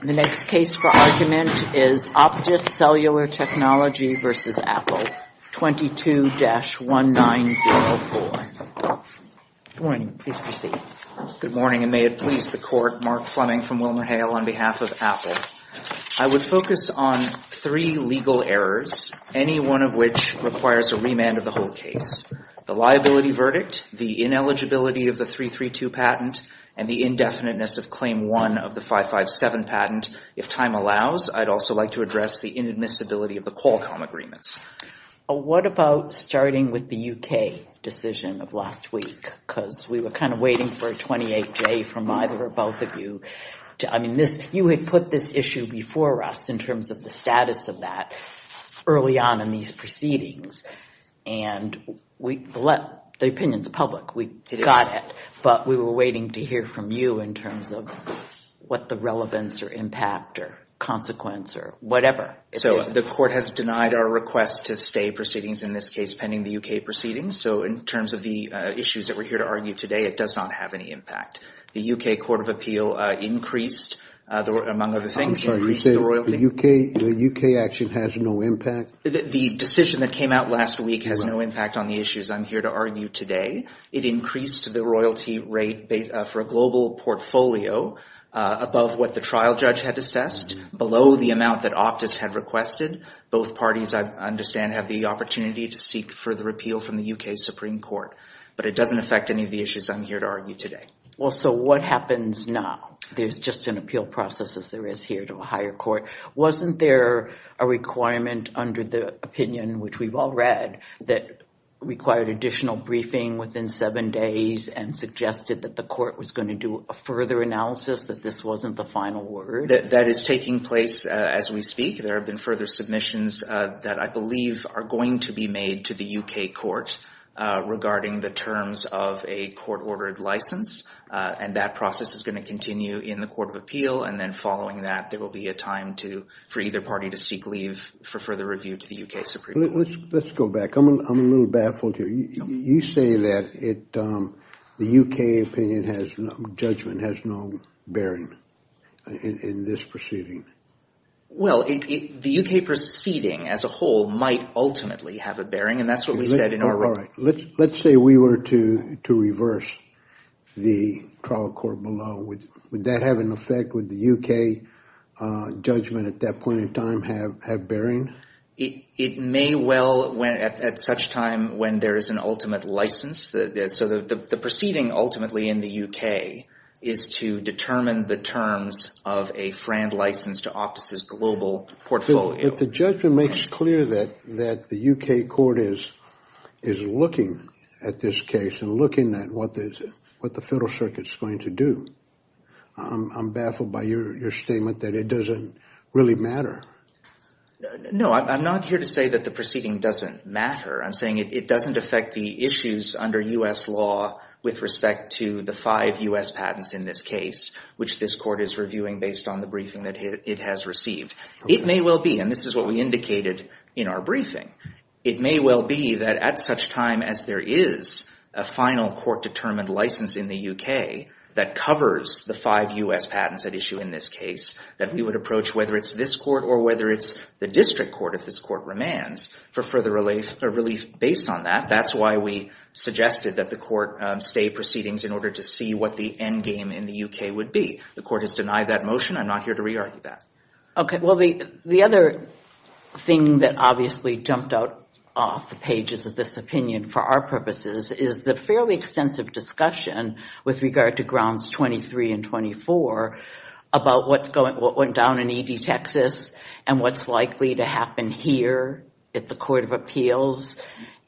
The next case for argument is Optis Cellular Technology v. Apple, 22-1904. Good morning and may it please the Court, Mark Fleming from WilmerHale on behalf of I would focus on three legal errors, any one of which requires a remand of the whole case. The liability verdict, the ineligibility of the 332 patent, and the indefiniteness of the 557 patent. If time allows, I'd also like to address the inadmissibility of the Qualcomm agreements. What about starting with the UK decision of last week? Because we were kind of waiting for a 28-day from either or both of you. I mean, you had put this issue before us in terms of the status of that early on in these proceedings, and the opinion's public. We were waiting to hear from you in terms of what the relevance or impact or consequence or whatever. The Court has denied our request to stay proceedings, in this case, pending the UK proceedings, so in terms of the issues that we're here to argue today, it does not have any impact. The UK Court of Appeal increased, among other things, increased the royalty. I'm sorry, you're saying the UK action has no impact? The decision that came out last week has no impact on the issues I'm here to argue today. It increased the royalty rate for a global portfolio above what the trial judge had assessed, below the amount that Optus had requested. Both parties, I understand, have the opportunity to seek further appeal from the UK Supreme Court, but it doesn't affect any of the issues I'm here to argue today. Well, so what happens now? There's just an appeal process, as there is here, to a higher court. Wasn't there a requirement under the opinion, which we've all read, that required an additional briefing within seven days and suggested that the court was going to do a further analysis, that this wasn't the final word? That is taking place as we speak. There have been further submissions that I believe are going to be made to the UK courts regarding the terms of a court-ordered license, and that process is going to continue in the Court of Appeal, and then following that, there will be a time for either party to seek leave for further review to the UK Supreme Court. Let's go back. I'm a little baffled here. You say that the UK opinion has no, judgment has no bearing in this proceeding. Well, the UK proceeding as a whole might ultimately have a bearing, and that's what we said in our report. All right. Let's say we were to reverse the trial court below. Would that have an effect? Would the UK judgment at that point in time have bearing? It may well, at such time when there is an ultimate license, so the proceeding ultimately in the UK is to determine the terms of a Franz license to Optus's global portfolio. If the judgment makes clear that the UK court is looking at this case and looking at what the Federal Circuit is going to do, I'm baffled by your statement that it doesn't really matter. No, I'm not here to say that the proceeding doesn't matter. I'm saying it doesn't affect the issues under U.S. law with respect to the five U.S. patents in this case, which this court is reviewing based on the briefing that it has received. It may well be, and this is what we indicated in our briefing, it may well be that at such time as there is a final court-determined license in the UK that covers the five U.S. patents at issue in this case, that we would approach whether it's this court or whether it's the district court if this court remands for further release based on that. That's why we suggested that the court say proceedings in order to see what the endgame in the UK would be. The court has denied that motion. I'm not here to re-argue that. The other thing that obviously jumped off the pages of this opinion for our purposes is the fairly extensive discussion with regard to grounds 23 and 24 about what went down in E.D. Texas and what's likely to happen here at the Court of Appeals.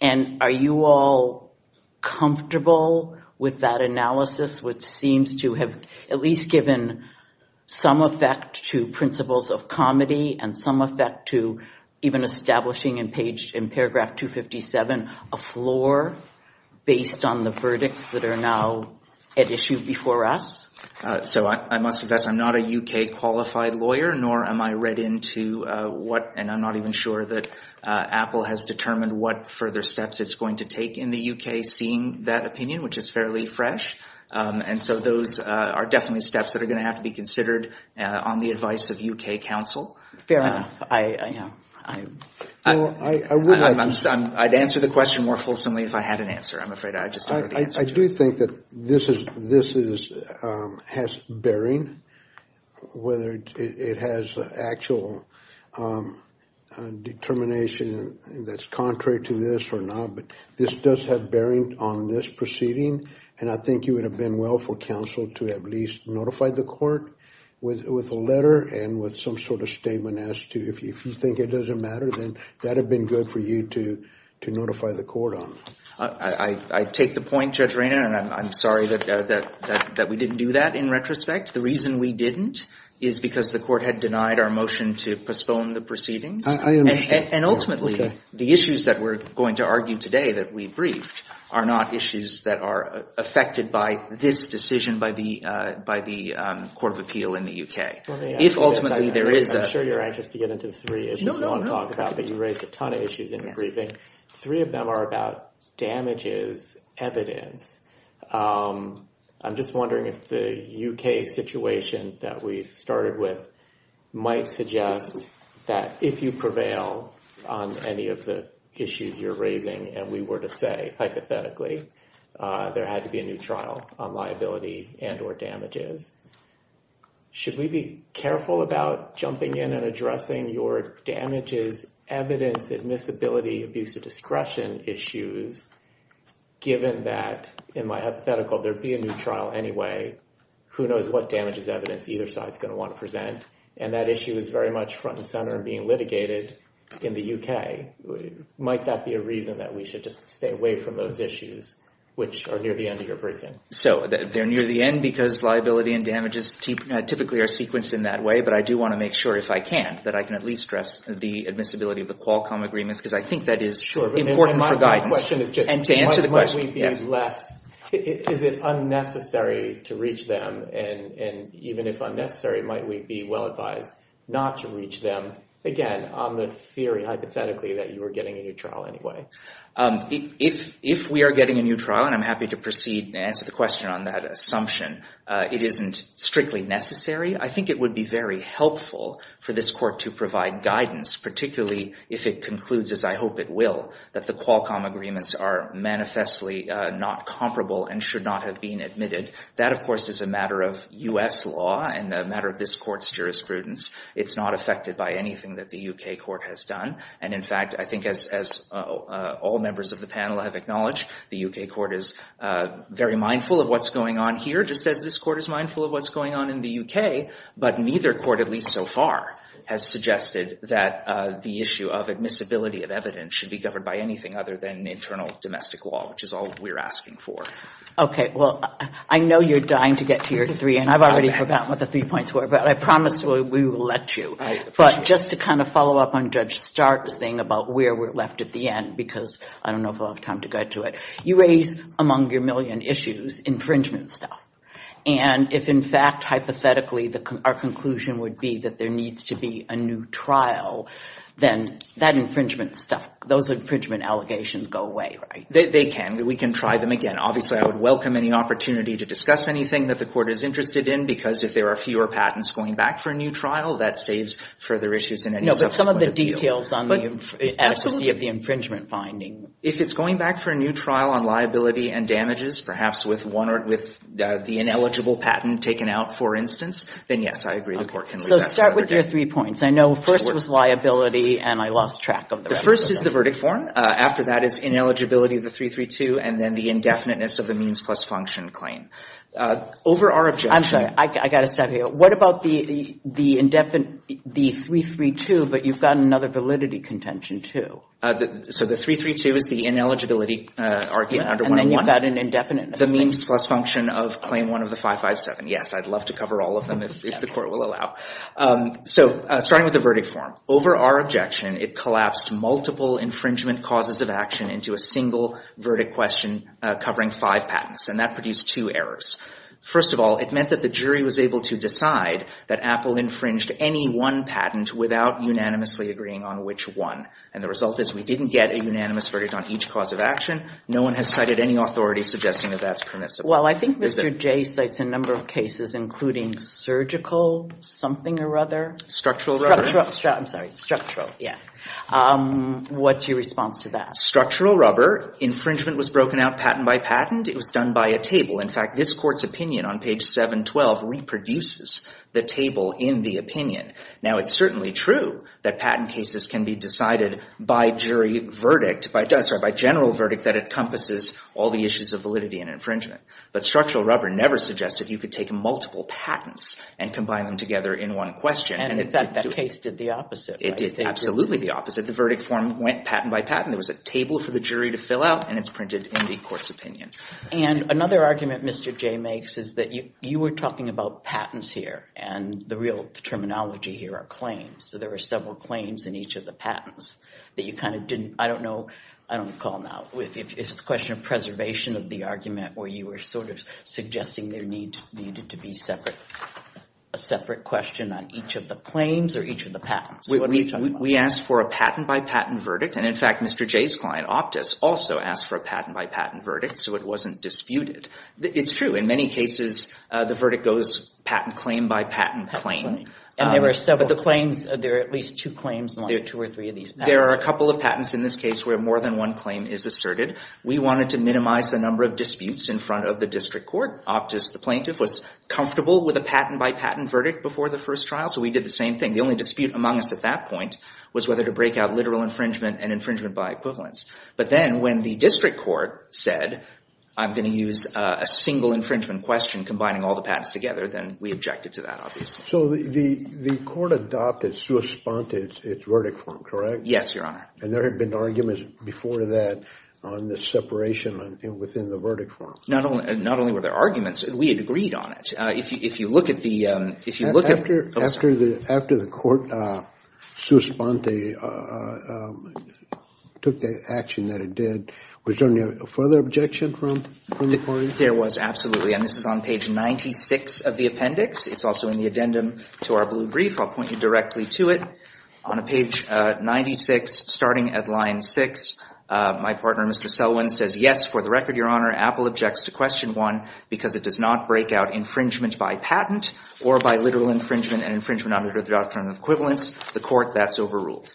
Are you all comfortable with that analysis, which seems to have at least given some effect to principles of comedy and some effect to even establishing in paragraph 257 a floor? Based on the verdicts that are now at issue before us? I must address I'm not a UK-qualified lawyer, nor am I read into what, and I'm not even sure that Apple has determined what further steps it's going to take in the UK seeing that opinion, which is fairly fresh. Those are definitely steps that are going to have to be considered on the advice of UK counsel. Fair enough. I'd answer the question more fulsomely if I had an answer. I'm afraid I just don't have an answer. I do think that this has bearing, whether it has actual determination that's contrary to this or not, but this does have bearing on this proceeding, and I think it would have been well for counsel to at least notify the court with a letter and with some sort of statement as to if you think it doesn't matter, then that would have been good for you to notify the court on. I take the point, Judge Rayner, and I'm sorry that we didn't do that in retrospect. The reason we didn't is because the court had denied our motion to postpone the proceedings. And ultimately, the issues that we're going to argue today that we've briefed are not issues that are affected by this decision by the Court of Appeal in the UK. If ultimately there is a... I'm sure you're anxious to get into three issues that I'm talking about, but you raised a ton of issues in the briefing. Three of them are about damages evidence. I'm just wondering if the UK situation that we started with might suggest that if you prevail on any of the issues you're raising, and we were to say, hypothetically, there had to be a new trial on liability and or damages, should we be careful about jumping in and addressing your damages evidence admissibility abuse of discretion issues, given that, in my hypothetical, there'd be a new trial anyway. Who knows what damages evidence either side's going to want to present. And that issue is very much front and center and being litigated in the UK. Might that be a reason that we should just stay away from those issues, which are near the end of your briefing? So, they're near the end because liability and damages typically are sequenced in that way, but I do want to make sure, if I can, that I can at least stress the admissibility of the Qualcomm agreement, because I think that is important for guidance. Sure, but my last question is just one of the questions we've used less. Is it unnecessary to reach them? And even if unnecessary, might we be well-advised not to reach them, again, on the theory, hypothetically, that you were getting a new trial anyway? If we are getting a new trial, and I'm happy to proceed and answer the question on that assumption, it isn't strictly necessary. I think it would be very helpful for this court to provide guidance, particularly if it concludes, as I hope it will, that the Qualcomm agreements are manifestly not comparable and should not have been admitted. That, of course, is a matter of U.S. law and a matter of this court's jurisprudence. It's not affected by anything that the U.K. court has done, and in fact, I think as all members of the panel have acknowledged, the U.K. court is very mindful of what's going on here, just as this court is mindful of what's going on in the U.K., but neither court, at least so far, has suggested that the issue of admissibility of evidence should be covered by anything other than an internal domestic law, which is all we're asking for. Okay, well, I know you're dying to get to your three, and I've already forgotten what the three points were, but I promise we will let you, but just to kind of follow up on Judge Stark's thing about where we're left at the end, because I don't know if I'll have time to get to it, you raised, among your million issues, infringement stuff, and if in fact, hypothetically, our conclusion would be that there needs to be a new trial, then that infringement stuff, those infringement allegations go away, right? They can. We can try them again. Obviously, I would welcome any opportunity to discuss anything that the court is interested in, because if there are fewer patents going back for a new trial, that saves further issues in any subsequent appeal. No, but some of the details on the absentee of the infringement finding. If it's going back for a new trial on liability and damages, perhaps with the ineligible patent taken out, for instance, then yes, I agree the court can leave that for another day. Let's start with your three points. I know first was liability, and I lost track of that. The first is the verdict form. After that is ineligibility of the 332, and then the indefiniteness of the means plus function claim. I'm sorry, I've got to stop you. What about the 332, but you've got another validity contention too? So the 332 is the ineligibility argument, and then you've got an indefiniteness. The means plus function of claim one of the 557. Yes, I'd love to cover all of them, if the court will allow. So, starting with the verdict form. Over our objection, it collapsed multiple infringement causes of action into a single verdict question covering five patents, and that produced two errors. First of all, it meant that the jury was able to decide that Apple infringed any one patent without unanimously agreeing on which one, and the result is we didn't get a unanimous verdict on each cause of action. No one has cited any authority suggesting that that's permissible. Well, I think Mr. Jay states a number of cases, including surgical something or other. Structural, yes. What's your response to that? Structural rubber. Infringement was broken out patent by patent. It was done by a table. In fact, this court's opinion on page 712 reproduces the table in the opinion. Now, it's certainly true that patent cases can be decided by general verdict that encompasses all the issues of validity and infringement, but structural rubber never suggested you could take multiple patents and combine them together in one question. And that case did the opposite, right? It did absolutely the opposite. The verdict form went patent by patent. There was a table for the jury to fill out, and it's printed in the court's opinion. And another argument Mr. Jay makes is that you were talking about patents here, and the real terminology here are claims. So, there were several claims in each of the patents that you kind of didn't, I don't know, I don't recall now. It's a question of preservation of the argument where you were sort of suggesting there needed to be a separate question on each of the claims or each of the patents. We asked for a patent by patent verdict, and in fact, Mr. Jay's client Optus also asked for a patent by patent verdict, so it wasn't disputed. It's true. In many cases, the verdict goes patent claim by patent claim. And there were several claims. There are at least two claims on two or three of these patents. There are a couple of patents in this case where more than one claim is asserted. We wanted to minimize the number of disputes in front of the district court. Optus, the plaintiff, was comfortable with a patent by patent verdict before the first trial, so we did the same thing. The only dispute among us at that point was whether to break out literal infringement and infringement by equivalence. But then, when the district court said, I'm going to use a single infringement question combining all the patents together, then we objected to that, obviously. So, the court adopted Sue Espont's verdict form, correct? Yes, Your Honor. And there had been arguments before that on the separation within the verdict form. Not only were there arguments, we had agreed on it. If you look at the... After the court, Sue Espont took the action that it did. Was there any further objection from the court? There was, absolutely. And this is on page 96 of the appendix. It's also in the addendum to our blue brief. I'll point you directly to it. On page 96, starting at line 6, my partner, Mr. Selwyn, says, Yes, for the record, Your Honor, Apple objects to question 1 because it does not break out infringement by patent or by literal infringement and infringement under the doctrine of equivalence. The court, that's overruled.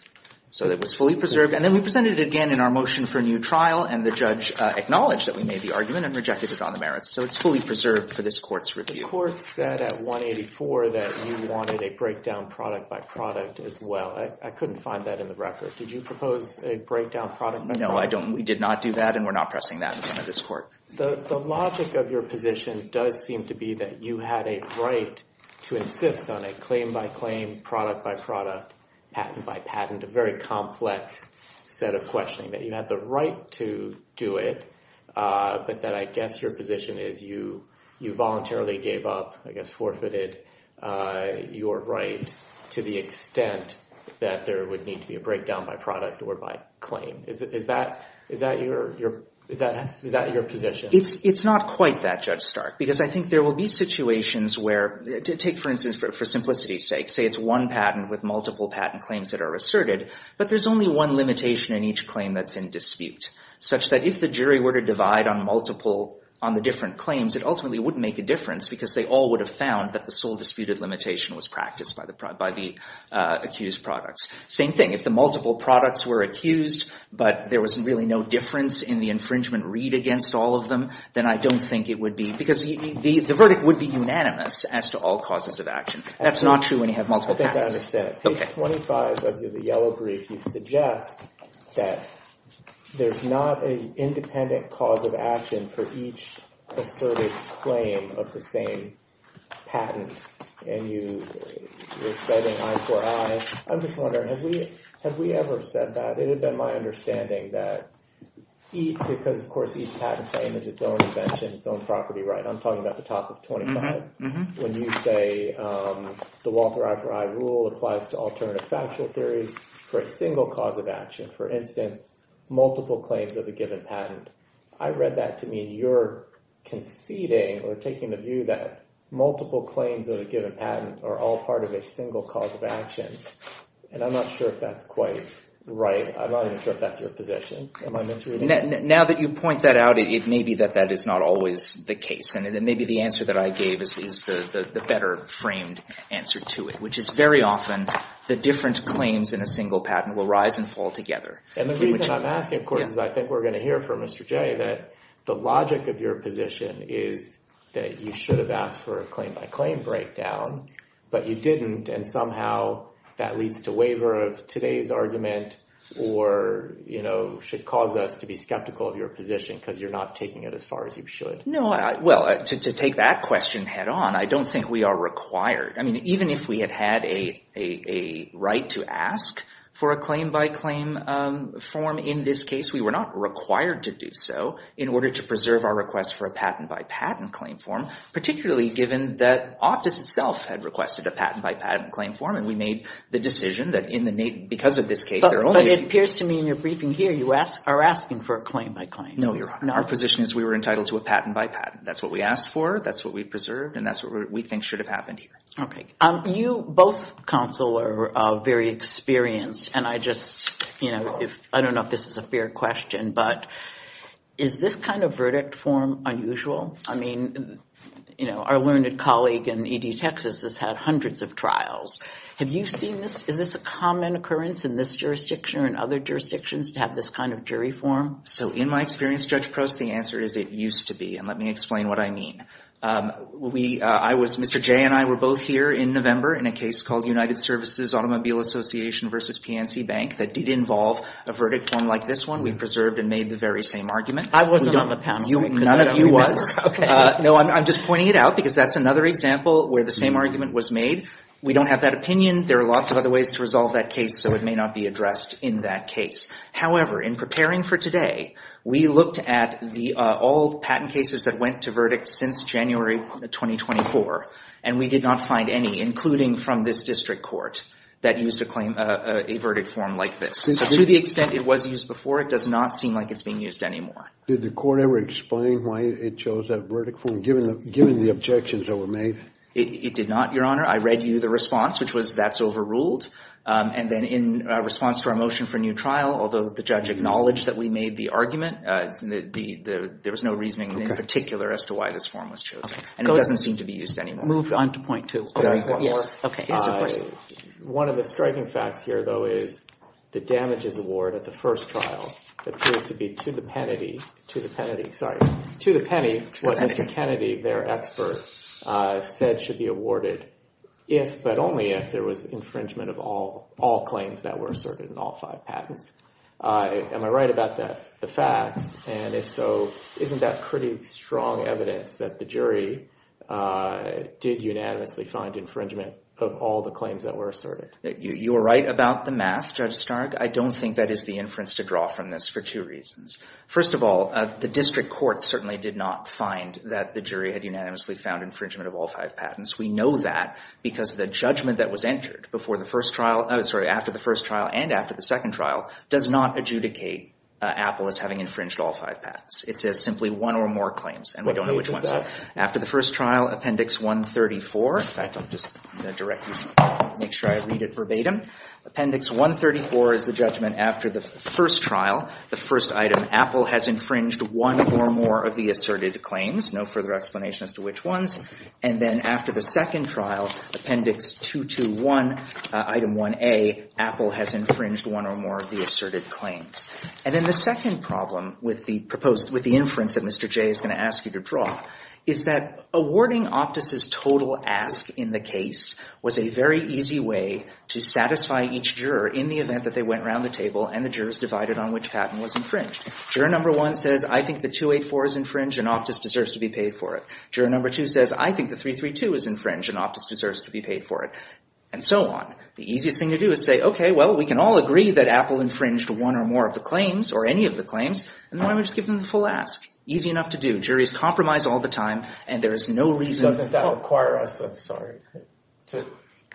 So, that was fully preserved. And then we presented it again in our motion for a new trial, and the judge acknowledged that we made the argument and rejected it on the merits. So, it's fully preserved for this court's review. The court said at 184 that you wanted a breakdown product by product as well. I couldn't find that in the record. Did you propose a breakdown product by product? No, I don't. We did not do that, and we're not pressing that in front of this court. The logic of your position does seem to be that you had a right to insist on a claim by claim, product by product, patent by patent, a very complex set of questioning. That you had the right to do it, but that I guess your position is you voluntarily gave up, I guess forfeited your right to the extent that there would need to be a breakdown by product or by claim. Is that your position? It's not quite that, Judge Stark, because I think there will be situations where, take for instance, for simplicity's sake, say it's one patent with multiple patent claims that are asserted, but there's only one limitation in each claim that's in dispute, such that if the jury were to divide on the different claims, it ultimately wouldn't make a difference because they all would have found that the sole disputed limitation was practiced by the accused products. Same thing, if the multiple products were accused, but there was really no difference in the infringement read against all of them, then I don't think it would be, because the verdict would be unanimous as to all causes of action. That's not true when you have multiple products. I think I understand. Page 25 of the yellow brief, you suggest that there's not an independent cause of action for each asserted claim of the same patent, and you're setting I4I. I'm just wondering, have we ever said that? It had been my understanding that each, because of course each patent claim is its own invention, its own property, right? I'm talking about the topic point in my head. When you say the Walter I4I rule applies to alternative factual theories for a single cause of action, for instance, multiple claims of a given patent. I read that to mean you're conceding or taking the view that multiple claims of a given patent are all part of a single cause of action, and I'm not sure if that's quite right. I'm not even sure if that's your position. Am I misreading it? Now that you point that out, it may be that that is not always the case, and maybe the answer that I gave is the better framed answer to it, which is very often the different claims in a single patent will rise and fall together. And the reason I'm asking, of course, is I think we're going to hear from Mr. Jay that the logic of your position is that you should have asked for a claim-by-claim breakdown, but you didn't, and somehow that leads to waiver of today's argument, or should cause us to be skeptical of your position because you're not taking it as far as you should. Well, to take that question head on, I don't think we are required. Even if we had had a right to ask for a claim-by-claim form in this case, we were not required to do so in order to preserve our request for a patent-by-patent claim form, particularly given that Optus itself had requested a patent-by-patent claim form, and we made the decision that because of this case, there only... But it appears to me in your briefing here, you are asking for a claim-by-claim. No, Your Honor. Our position is we were entitled to a patent-by-patent. That's what we asked for, that's what we preserved, and that's what we think should have happened here. Okay. You both, Counsel, are very experienced, and I don't know if this is a fair question, but is this kind of verdict form unusual? I mean, you know, our learned colleague in E.D. Texas has had hundreds of trials. Have you seen this? Is this a common occurrence in this jurisdiction or in other jurisdictions to have this kind of jury form? So, in my experience, Judge Cross, the answer is it used to be, and let me explain what I mean. Mr. Jay and I were both here in November in a case called United Services Automobile Association versus PNC Bank that did involve a verdict form like this one. We preserved and made the very same argument. I wasn't on the panel. None of you was? Okay. No, I'm just pointing it out, because that's another example where the same argument was made. We don't have that opinion. There are lots of other ways to resolve that case, so it may not be addressed in that case. However, in preparing for today, we looked at all patent cases that went to verdict since January 2024, and we did not find any, including from this district court, that used a verdict form like this. To the extent it was used before, it does not seem like it's being used anymore. Did the court ever explain why it chose that verdict form, given the objections that were made? It did not, Your Honor. I read you the response, which was, that's overruled. And then in response to our motion for new trial, although the judge acknowledged that we made the argument, there was no reasoning in particular as to why this form was chosen. And it doesn't seem to be used anymore. Move on to point two. One of the striking facts here, though, is the damages award at the first trial appears to be to the penny what Mr. Kennedy, their expert, said should be awarded if, but only if, there was infringement of all claims that were asserted in all five patents. Am I right about that? And if so, isn't that pretty strong evidence that the jury did unanimously find infringement of all the claims that were asserted? You're right about the math, Judge Stark. I don't think that is the inference to draw from this for two reasons. First of all, the district court certainly did not find that the jury had unanimously found infringement of all five patents. We know that because the judgment that was entered after the first trial and after the second trial does not adjudicate Apple as having infringed all five patents. It's simply one or more claims, and we don't know which ones. After the first trial, Appendix 134, if I can just make sure I read it verbatim. Appendix 134 is the judgment after the first trial, the first item, Apple has infringed one or more of the asserted claims, no further explanation as to which ones. And then after the second trial, Appendix 221, Item 1A, Apple has infringed one or more of the asserted claims. And then the second problem with the inference that Mr. Jay is going to ask you to draw is that awarding Optus' total ask in the case was a very easy way to satisfy each juror in the event that they went around the table and the jurors divided on which patent was infringed. Juror number one says, I think the 284 is infringed and Optus deserves to be paid for it. Juror number two says, I think the 332 is infringed and Optus deserves to be paid for it, and so on. The easiest thing to do is say, okay, well, we can all agree that Apple infringed one or more of the claims or any of the claims, and then I'm going to just give them the full ask. Easy enough to do. Juries compromise all the time, and there is no reason— It doesn't require us, I'm sorry. It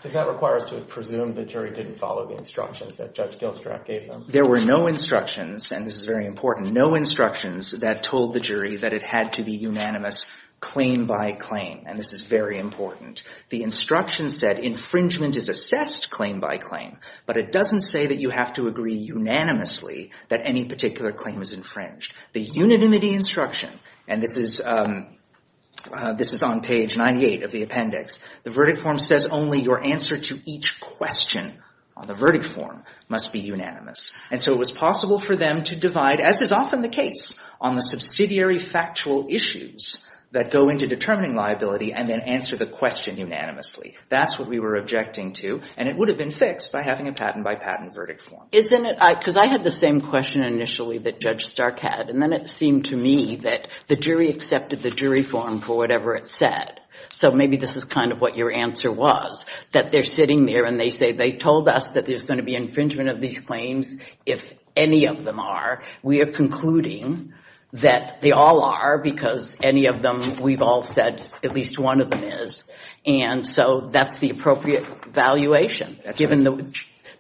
doesn't require us to presume the jury didn't follow the instructions that Judge Gilstrap gave them. There were no instructions, and this is very important, that told the jury that it had to be unanimous claim by claim, and this is very important. The instructions said infringement is assessed claim by claim, but it doesn't say that you have to agree unanimously that any particular claim is infringed. The unanimity instruction, and this is on page 98 of the appendix, the verdict form says only your answer to each question on the verdict form must be unanimous, and so it was possible for them to divide, as is often the case, on the subsidiary factual issues that go into determining liability, and then answer the question unanimously. That's what we were objecting to, and it would have been fixed by having a patent by patent verdict form. Isn't it—because I had the same question initially that Judge Stark had, and then it seemed to me that the jury accepted the jury form for whatever it said, so maybe this is kind of what your answer was, that they're sitting there and they say, and they told us that there's going to be infringement of these claims if any of them are. We are concluding that they all are because any of them we've all said at least one of them is, and so that's the appropriate valuation given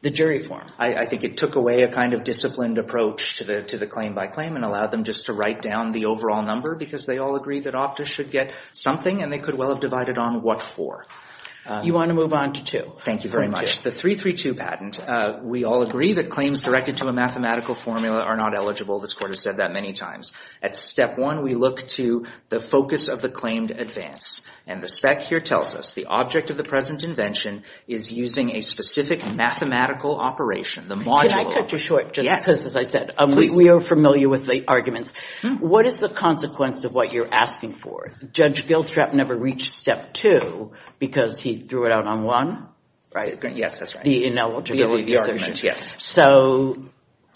the jury form. I think it took away a kind of disciplined approach to the claim by claim and allowed them just to write down the overall number because they all agree that OFTA should get something, and they could well have divided on what for. You want to move on to two? Thank you very much. The 332 patent, we all agree that claims directed to a mathematical formula are not eligible. This court has said that many times. At step one, we look to the focus of the claimed advance, and the spec here tells us the object of the present invention is using a specific mathematical operation. Can I cut you short just because, as I said, we are familiar with late arguments. What is the consequence of what you're asking for? Judge Gilstrap never reached step two because he threw it out on one. Yes, that's right. The ineligibility of the arguments, yes. So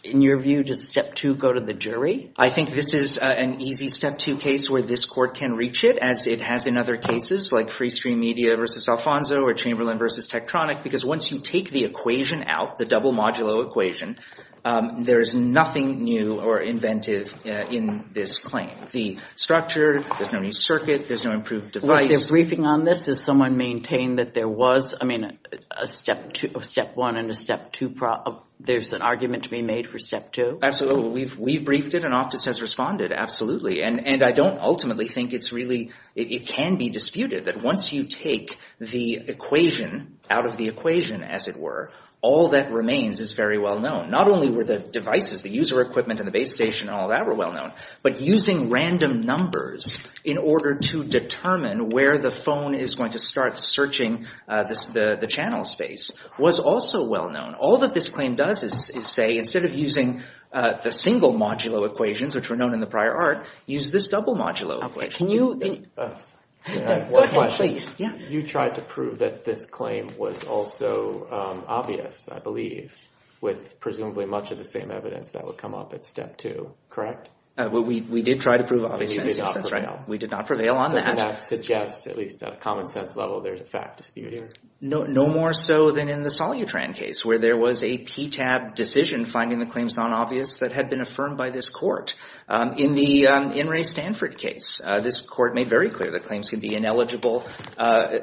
in your view, does step two go to the jury? I think this is an easy step two case where this court can reach it, as it has in other cases like Free Stream Media versus Alfonso or Chamberlain versus Tektronik because once you take the equation out, the double modulo equation, there is nothing new or inventive in this claim. There's no structure, there's no new circuit, there's no improved device. Was there briefing on this? Did someone maintain that there was, I mean, a step one and a step two problem? There's an argument to be made for step two? Absolutely. We briefed it and Office has responded, absolutely. And I don't ultimately think it can be disputed that once you take the equation out of the equation, as it were, all that remains is very well known. Not only were the devices, the user equipment and the base station and all that were well known, but using random numbers in order to determine where the phone is going to start searching the channel space was also well known. All that this claim does is say, instead of using the single modulo equations, which were known in the prior art, use this double modulo equation. One question. You tried to prove that this claim was also obvious, I believe, with presumably much of the same evidence that would come up at step two, correct? We did try to prove obviousness. We did not prevail on that. That suggests, at least at a common sense level, there's a fact dispute here. No more so than in the Solutran case, where there was a PTAB decision finding the claims non-obvious that had been affirmed by this court. In the In re Stanford case, this court made very clear that claims could be ineligible,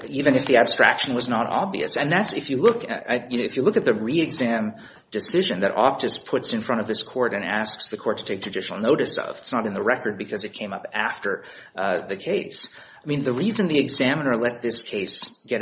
even if the abstraction was not obvious. If you look at the re-exam decision that Optus puts in front of this court and asks the court to take judicial notice of, it's not in the record because it came up after the case. The reason the examiner let these claims get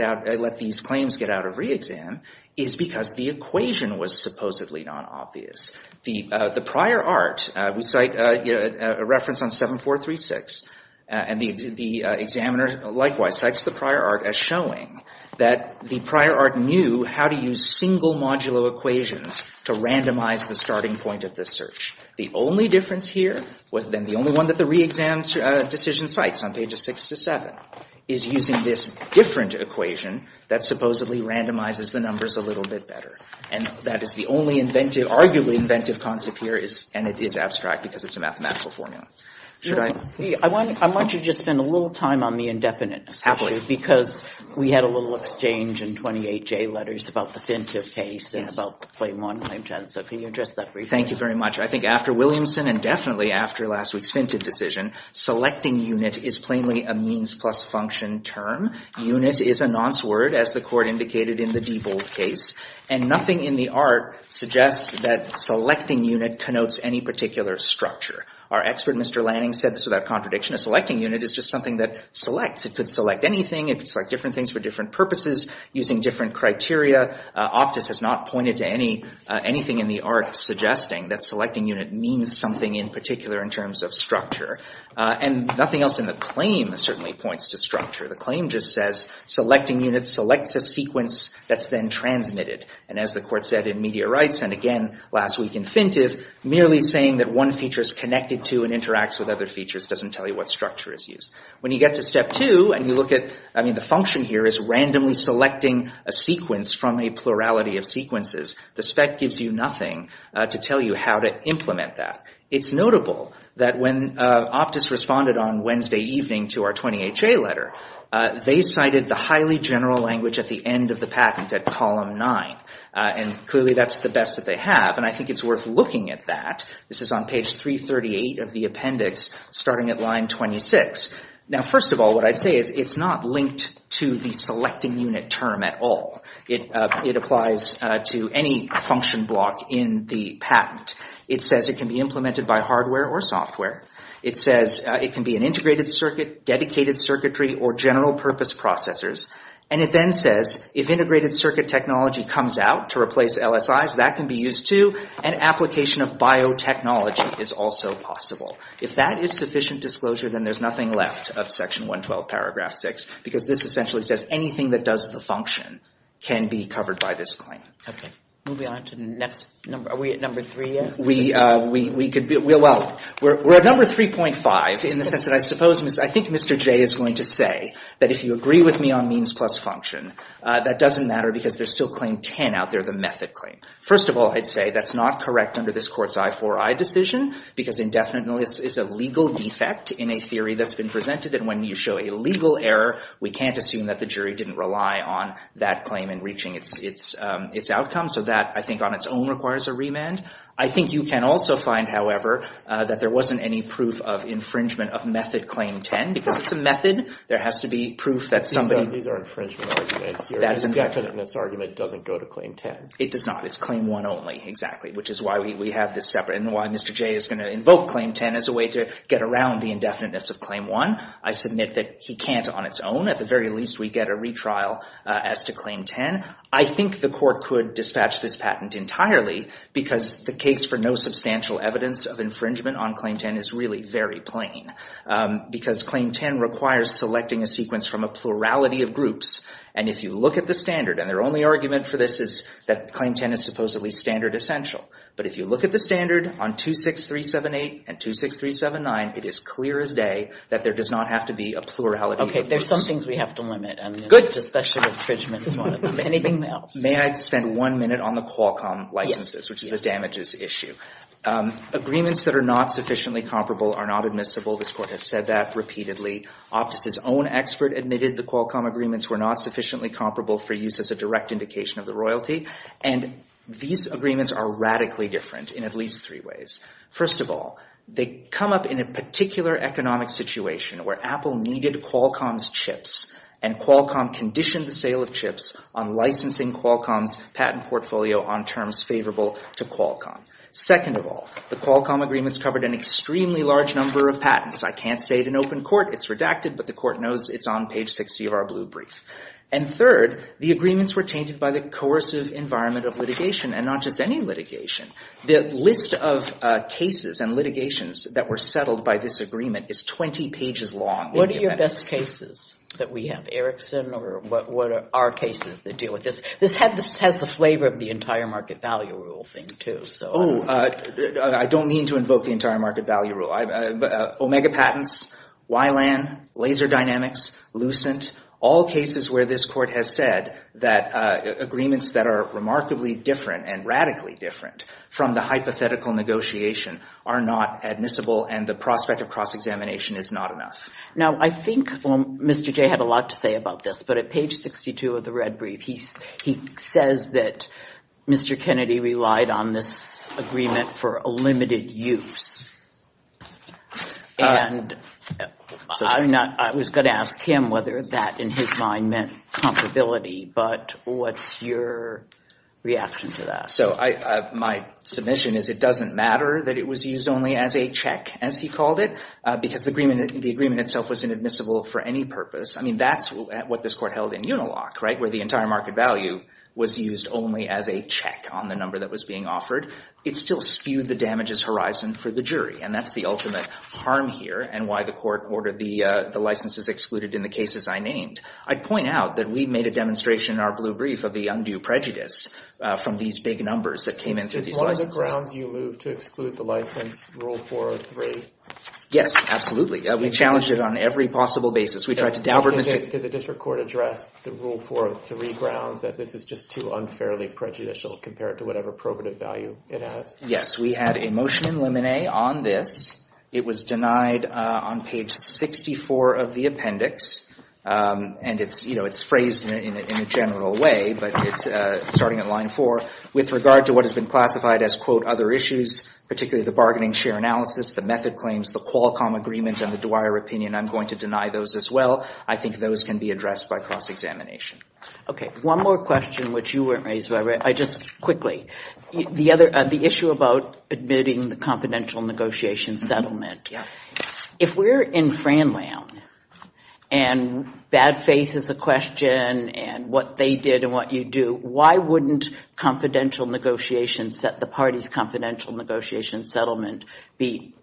out of re-exam is because the equation was supposedly not obvious. The prior art, we cite a reference on 7436, and the examiner likewise cites the prior art as showing that the prior art knew how to use single modulo equations to randomize the starting point of the search. The only difference here was then the only one that the re-exam decision cites on pages six to seven is using this different equation that supposedly randomizes the numbers a little bit better. And that is the only arguably inventive concept here, and it is abstract because it's a mathematical formula. I want you to just spend a little time on the indefinite, because we had a little exchange in 28J letters about the Fintive case, and about the claim on claim tensor. Can you address that briefly? Thank you very much. I think after Williamson, and definitely after last week's Fintive decision, selecting unit is plainly a means plus function term. Unit is a nonce word, as the court indicated in the Diebold case, and nothing in the art suggests that selecting unit connotes any particular structure. Our expert, Mr. Lanning, said this without contradiction. A selecting unit is just something that selects. It could select anything. It could select different things for different purposes, using different criteria. Optus has not pointed to anything in the art suggesting that selecting unit means something in particular in terms of structure. And nothing else in the claim certainly points to structure. The claim just says selecting unit selects a sequence that's then transmitted. And as the court said in Meteorites, and again last week in Fintive, merely saying that one feature is connected to and interacts with other features doesn't tell you what structure is used. When you get to step two, and you look at, I mean, the function here is randomly selecting a sequence from a plurality of sequences. The spec gives you nothing to tell you how to implement that. It's notable that when Optus responded on Wednesday evening to our 20HA letter, they cited the highly general language at the end of the patent at column nine. And clearly that's the best that they have, and I think it's worth looking at that. This is on page 338 of the appendix, starting at line 26. Now, first of all, what I'd say is it's not linked to the selecting unit term at all. It applies to any function block in the patent. It says it can be implemented by hardware or software. It says it can be an integrated circuit, dedicated circuitry, or general purpose processors. And it then says if integrated circuit technology comes out to replace LSI, that can be used too, and application of biotechnology is also possible. If that is sufficient disclosure, then there's nothing left of section 112, paragraph 6, because this essentially says anything that does the function can be covered by this claim. Okay. Moving on to the next number. Are we at number three yet? We could be. Well, we're at number 3.5 in the sense that I suppose, I think Mr. J is going to say that if you agree with me on means plus function, that doesn't matter because there's still claim 10 out there, the method claim. First of all, I'd say that's not correct under this court's I4I decision, because indefinitely it's a legal defect in a theory that's been presented, and when you show a legal error, we can't assume that the jury didn't rely on that claim in reaching its outcome, so that I think on its own requires a remand. I think you can also find, however, that there wasn't any proof of infringement of method claim 10, because if it's a method, there has to be proof that somebody These are infringement arguments here. The indefiniteness argument doesn't go to claim 10. It does not. It's claim 1 only, exactly, which is why we have this separate, and why Mr. J is going to invoke claim 10 as a way to get around the indefiniteness of claim 1. I submit that he can't on its own. At the very least, we get a retrial as to claim 10. I think the court could dispatch this patent entirely, because the case for no substantial evidence of infringement on claim 10 is really very plain, because claim 10 requires selecting a sequence from a plurality of groups, and if you look at the standard, and their only argument for this is that claim 10 is supposedly standard essential, but if you look at the standard on 26378 and 26379, it is clear as day that there does not have to be a plurality of groups. Okay, there's some things we have to limit. Good. Especially infringement is one of them. Anything else? May I spend one minute on the Qualcomm licenses, which is a damages issue? Agreements that are not sufficiently comparable are not admissible. This court has said that repeatedly. Optus's own expert admitted the Qualcomm agreements were not sufficiently comparable for use as a direct indication of the royalty, and these agreements are radically different in at least three ways. First of all, they come up in a particular economic situation where Apple needed Qualcomm's chips, and Qualcomm conditioned the sale of chips on licensing Qualcomm's patent portfolio on terms favorable to Qualcomm. Second of all, the Qualcomm agreements covered an extremely large number of patents. I can't say it in open court. It's redacted, but the court knows it's on page 60 of our blue brief. And third, the agreements were changed by the coercive environment of litigation, and not just any litigation. The list of cases and litigations that were settled by this agreement is 20 pages long. What are your best cases that we have, Erickson, or what are our cases that deal with this? This has the flavor of the entire market value rule thing, too. Oh, I don't mean to invoke the entire market value rule. Omega patents, YLAN, Laser Dynamics, Lucent, all cases where this court has said that agreements that are remarkably different and radically different from the hypothetical negotiation are not admissible, and the prospect of cross-examination is not enough. Now, I think Mr. Jay had a lot to say about this, but at page 62 of the red brief, he says that Mr. Kennedy relied on this agreement for a limited use. And I was going to ask him whether that, in his mind, meant comparability, but what's your reaction to that? So my submission is it doesn't matter that it was used only as a check, as he called it, because the agreement itself was inadmissible for any purpose. I mean, that's what this court held in Unilock, right, where the entire market value was used only as a check on the number that was being offered. It still spewed the damages horizon for the jury, and that's the ultimate harm here and why the court ordered the licenses excluded in the cases I named. I'd point out that we made a demonstration in our blue brief of the undue prejudice from these big numbers that came in. Is one of the grounds you moved to exclude the license Rule 403? Yes, absolutely. We challenged it on every possible basis. Did the district court address the Rule 403 grounds that this is just too unfairly prejudicial compared to whatever probative value it has? Yes, we had a motion in limine on this. It was denied on page 64 of the appendix, and it's phrased in a general way, but it's starting at line four. With regard to what has been classified as, quote, other issues, particularly the bargaining share analysis, the method claims, the Qualcomm agreement, and the Dwyer opinion, I'm going to deny those as well. I think those can be addressed by cross-examination. Okay, one more question which you weren't raised, but I just quickly. The issue about admitting the confidential negotiation settlement. If we're in Fran land, and bad faith is a question, and what they did and what you do, why wouldn't confidential negotiations at the party's confidential negotiation settlement be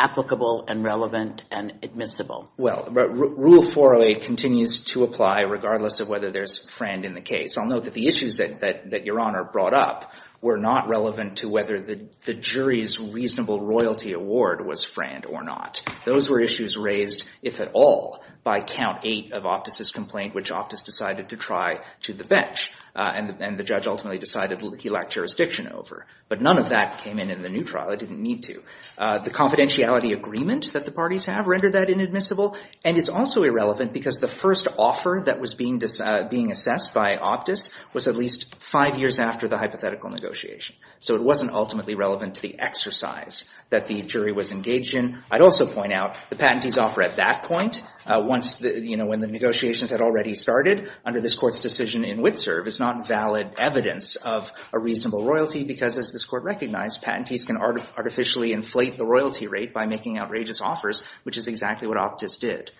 applicable and relevant and admissible? Well, Rule 408 continues to apply regardless of whether there's Fran in the case. I'll note that the issues that you're on are brought up. were not relevant to whether the jury's reasonable royalty award was Fran or not. Those were issues raised, if at all, by count eight of Optus's complaint, which Optus decided to try to the bench, and the judge ultimately decided he lacked jurisdiction over. But none of that came in in the new trial. It didn't need to. The confidentiality agreement that the parties have rendered that inadmissible, and it's also irrelevant because the first offer that was being assessed by Optus was at least five years after the hypothetical negotiation. So it wasn't ultimately relevant to the exercise that the jury was engaged in. I'd also point out the patentee's offer at that point, when the negotiations had already started under this court's decision in Whitserv, is not valid evidence of a reasonable royalty because, as this court recognized, patentees can artificially inflate the royalty rate by making outrageous offers, which is exactly what Optus did.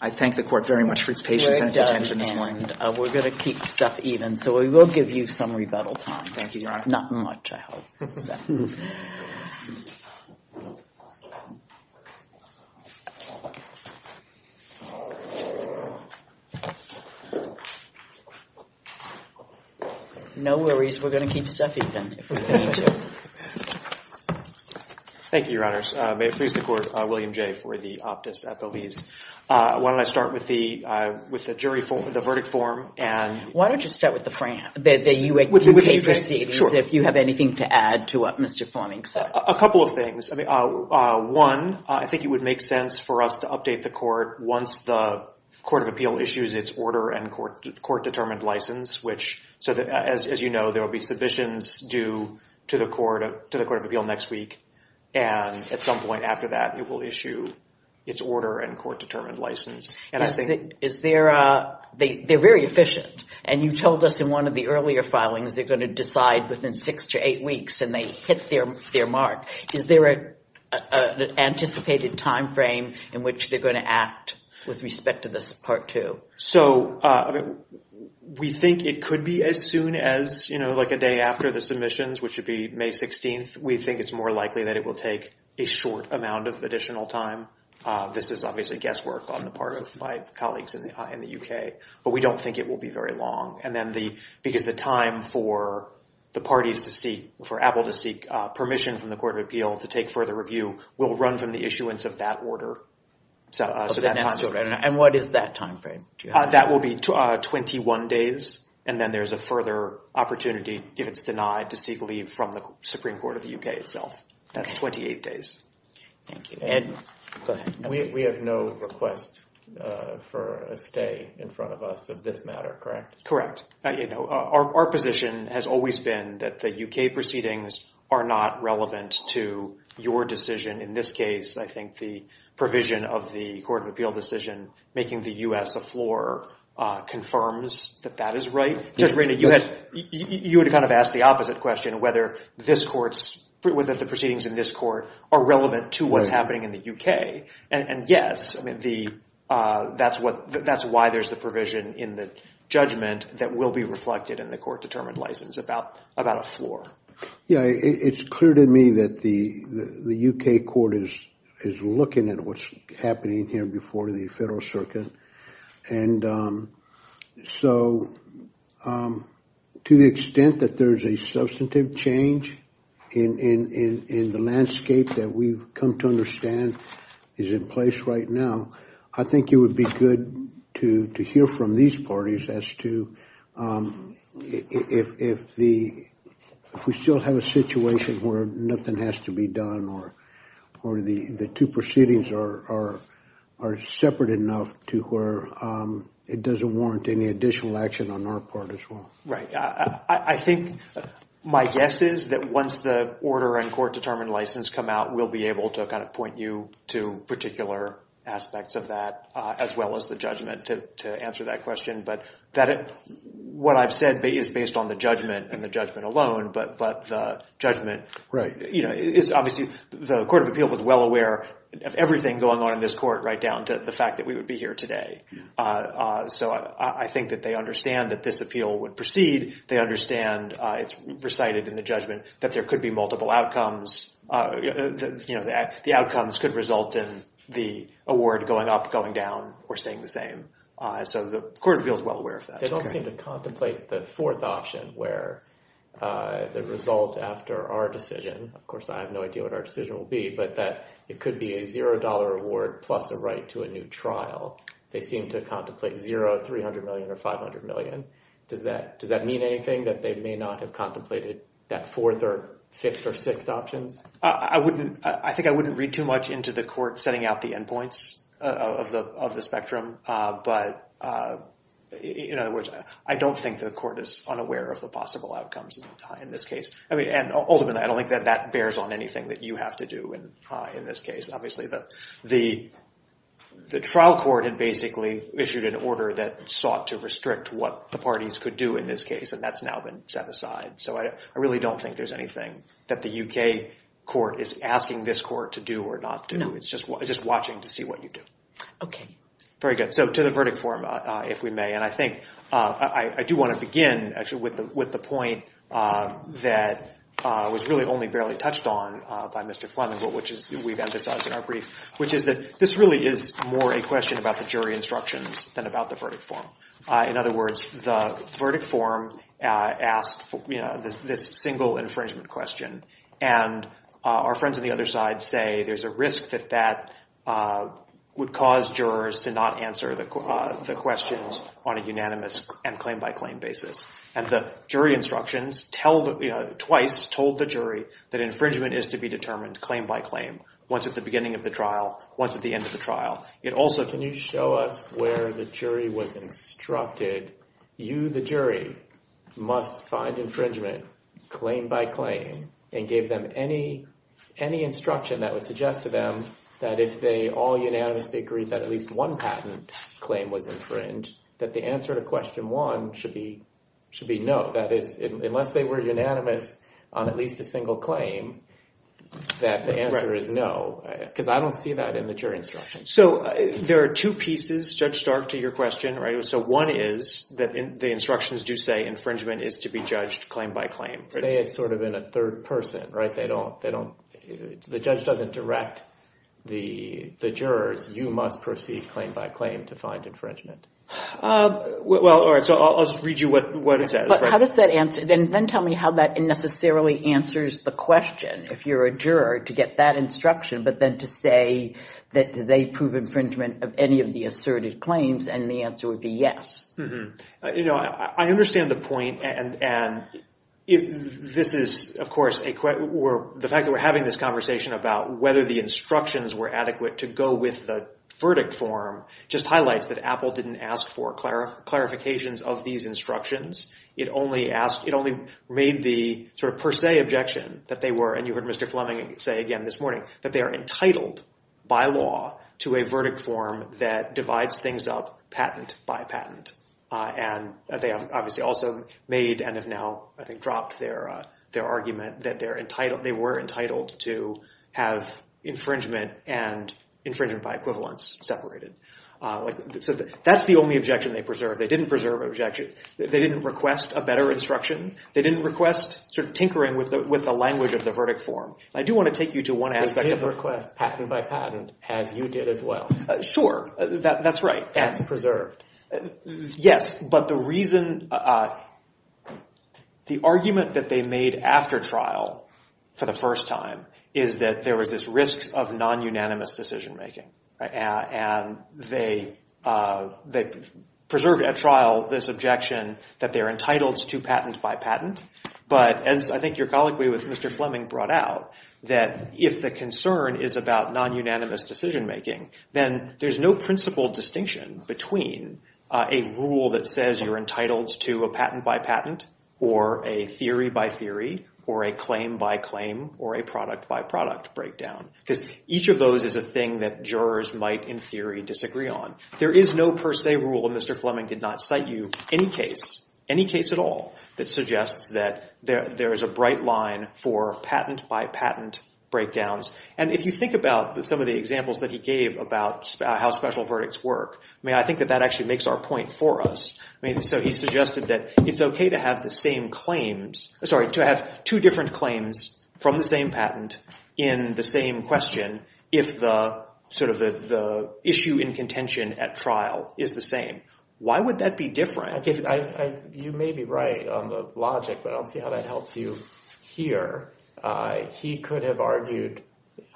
I thank the court very much for its patience and attention. And we're going to keep stuff even, so we will give you some rebuttal time. Thank you, Your Honor. Not much, I hope. No worries. We're going to keep stuff even. Thank you, Your Honors. May it please the court, I'm William Jay for the Optus at the least. Why don't I start with the verdict form? Why don't you start with the U.S. Judiciary proceedings, if you have anything to add to what Mr. Fleming said. A couple of things. One, I think it would make sense for us to update the court once the Court of Appeal issues its order and court-determined license. As you know, there will be submissions due to the Court of Appeal next week, and at some point after that, it will issue its order and court-determined license. They're very efficient, and you told us in one of the earlier filings they're going to decide within six to eight weeks, and they hit their mark. Is there an anticipated time frame in which they're going to act with respect to this Part 2? We think it could be as soon as a day after the submissions, which would be May 16th. We think it's more likely that it will take a short amount of additional time. This is obviously guesswork on the part of my colleagues in the U.K., but we don't think it will be very long. And then the time for the parties to seek, for Apple to seek permission from the Court of Appeal to take further review will run from the issuance of that order. And what is that time frame? That will be 21 days, and then there's a further opportunity, if it's denied, to seek leave from the Supreme Court of the U.K. itself. That's 28 days. We have no request for a stay in front of us of this matter, correct? Correct. Our position has always been that the U.K. proceedings are not relevant to your decision. In this case, I think the provision of the Court of Appeal decision, making the U.S. the floor, confirms that that is right. You would kind of ask the opposite question, whether the proceedings in this court are relevant to what's happening in the U.K. And yes, that's why there's the provision in the judgment that will be reflected in the court-determined license about a floor. It's clear to me that the U.K. court is looking at what's happening here before the federal circuit. And so to the extent that there's a substantive change in the landscape that we've come to understand is in place right now, I think it would be good to hear from these parties as to if we still have a situation where nothing has to be done or the two proceedings are separate enough to where it doesn't warrant any additional action on our part as well. Right. I think my guess is that once the order and court-determined license come out, we'll be able to kind of point you to particular aspects of that as well as the judgment to answer that question. But what I've said is based on the judgment and the judgment alone, but the judgment is obviously the Court of Appeal was well aware of everything going on in this court right down to the fact that we would be here today. So I think that they understand that this appeal would proceed. They understand it's recited in the judgment that there could be multiple outcomes. The outcomes could result in the award going up, going down, or staying the same. So the Court of Appeal is well aware of that. They don't need to contemplate the fourth option where the result after our decision, of course I have no idea what our decision will be, but that it could be a $0 award plus a right to a new trial. They seem to contemplate $0, $300 million, or $500 million. Does that mean anything that they may not have contemplated that fourth or fifth or sixth option? I think I wouldn't read too much into the court setting out the endpoints of the spectrum. But in other words, I don't think the court is unaware of the possible outcomes in this case. And ultimately, I don't think that bears on anything that you have to do in this case. Obviously, the trial court had basically issued an order that sought to restrict what the parties could do in this case, and that's now been set aside. So I really don't think there's anything that the U.K. court is asking this court to do or not do. It's just watching to see what you do. Okay. Very good. So to the verdict form, if we may. And I think I do want to begin, actually, with the point that was really only barely touched on by Mr. Fleming, which is we've emphasized in our brief, which is that this really is more a question about the jury instructions than about the verdict form. In other words, the verdict form asked this single infringement question, and our friends on the other side say there's a risk that that would cause jurors to not answer the questions on a unanimous and claim-by-claim basis. And the jury instructions twice told the jury that infringement is to be determined claim-by-claim, once at the beginning of the trial, once at the end of the trial. Also, can you show us where the jury was instructed, you, the jury, must find infringement claim-by-claim and give them any instruction that would suggest to them that if they all unanimously agree that at least one patent claim was infringed, that the answer to question one should be no, that unless they were unanimous on at least a single claim, that the answer is no, because I don't see that in the jury instructions. So there are two pieces, Judge Stark, to your question. So one is that the instructions do say infringement is to be judged claim-by-claim. They say it sort of in a third person, right? They don't, the judge doesn't direct the jurors, you must proceed claim-by-claim to find infringement. Well, all right, so I'll just read you what is that. How does that answer, then tell me how that necessarily answers the question, if you're a juror, to get that instruction, but then to say that they prove infringement of any of the asserted claims and the answer would be yes. You know, I understand the point, and this is, of course, the fact that we're having this conversation about whether the instructions were adequate to go with the verdict form just highlights that Apple didn't ask for clarifications of these instructions. It only asked, it only made the sort of per se objection that they were, and you heard Mr. Fleming say again this morning, that they are entitled by law to a verdict form that divides things up patent by patent. And they have obviously also made and have now, I think, dropped their argument that they were entitled to have infringement and infringement by equivalence separated. So that's the only objection they preserved. They didn't preserve an objection. They didn't request a better instruction. They didn't request sort of tinkering with the language of the verdict form. I do want to take you to one aspect of that. They did request patent by patent, and you did as well. Sure, that's right. And preserved. Yes, but the reason, the argument that they made after trial for the first time is that there was this risk of non-unanimous decision making, and they preserved at trial this objection that they're entitled to patent by patent. But, and I think your colloquy with Mr. Fleming brought out, that if the concern is about non-unanimous decision making, then there's no principle distinction between a rule that says you're entitled to a patent by patent or a theory by theory or a claim by claim or a product by product breakdown. Because each of those is a thing that jurors might in theory disagree on. There is no per se rule, and Mr. Fleming did not cite you any case, any case at all, that suggests that there is a bright line for patent by patent breakdowns. And if you think about some of the examples that he gave about how special verdicts work, I mean, I think that that actually makes our point for us. I mean, so he suggested that it's okay to have the same claims, sorry, to have two different claims from the same patent in the same question if the sort of the issue in contention at trial is the same. Why would that be different? I think you may be right on the logic, but I don't see how that helps you here. He could have argued,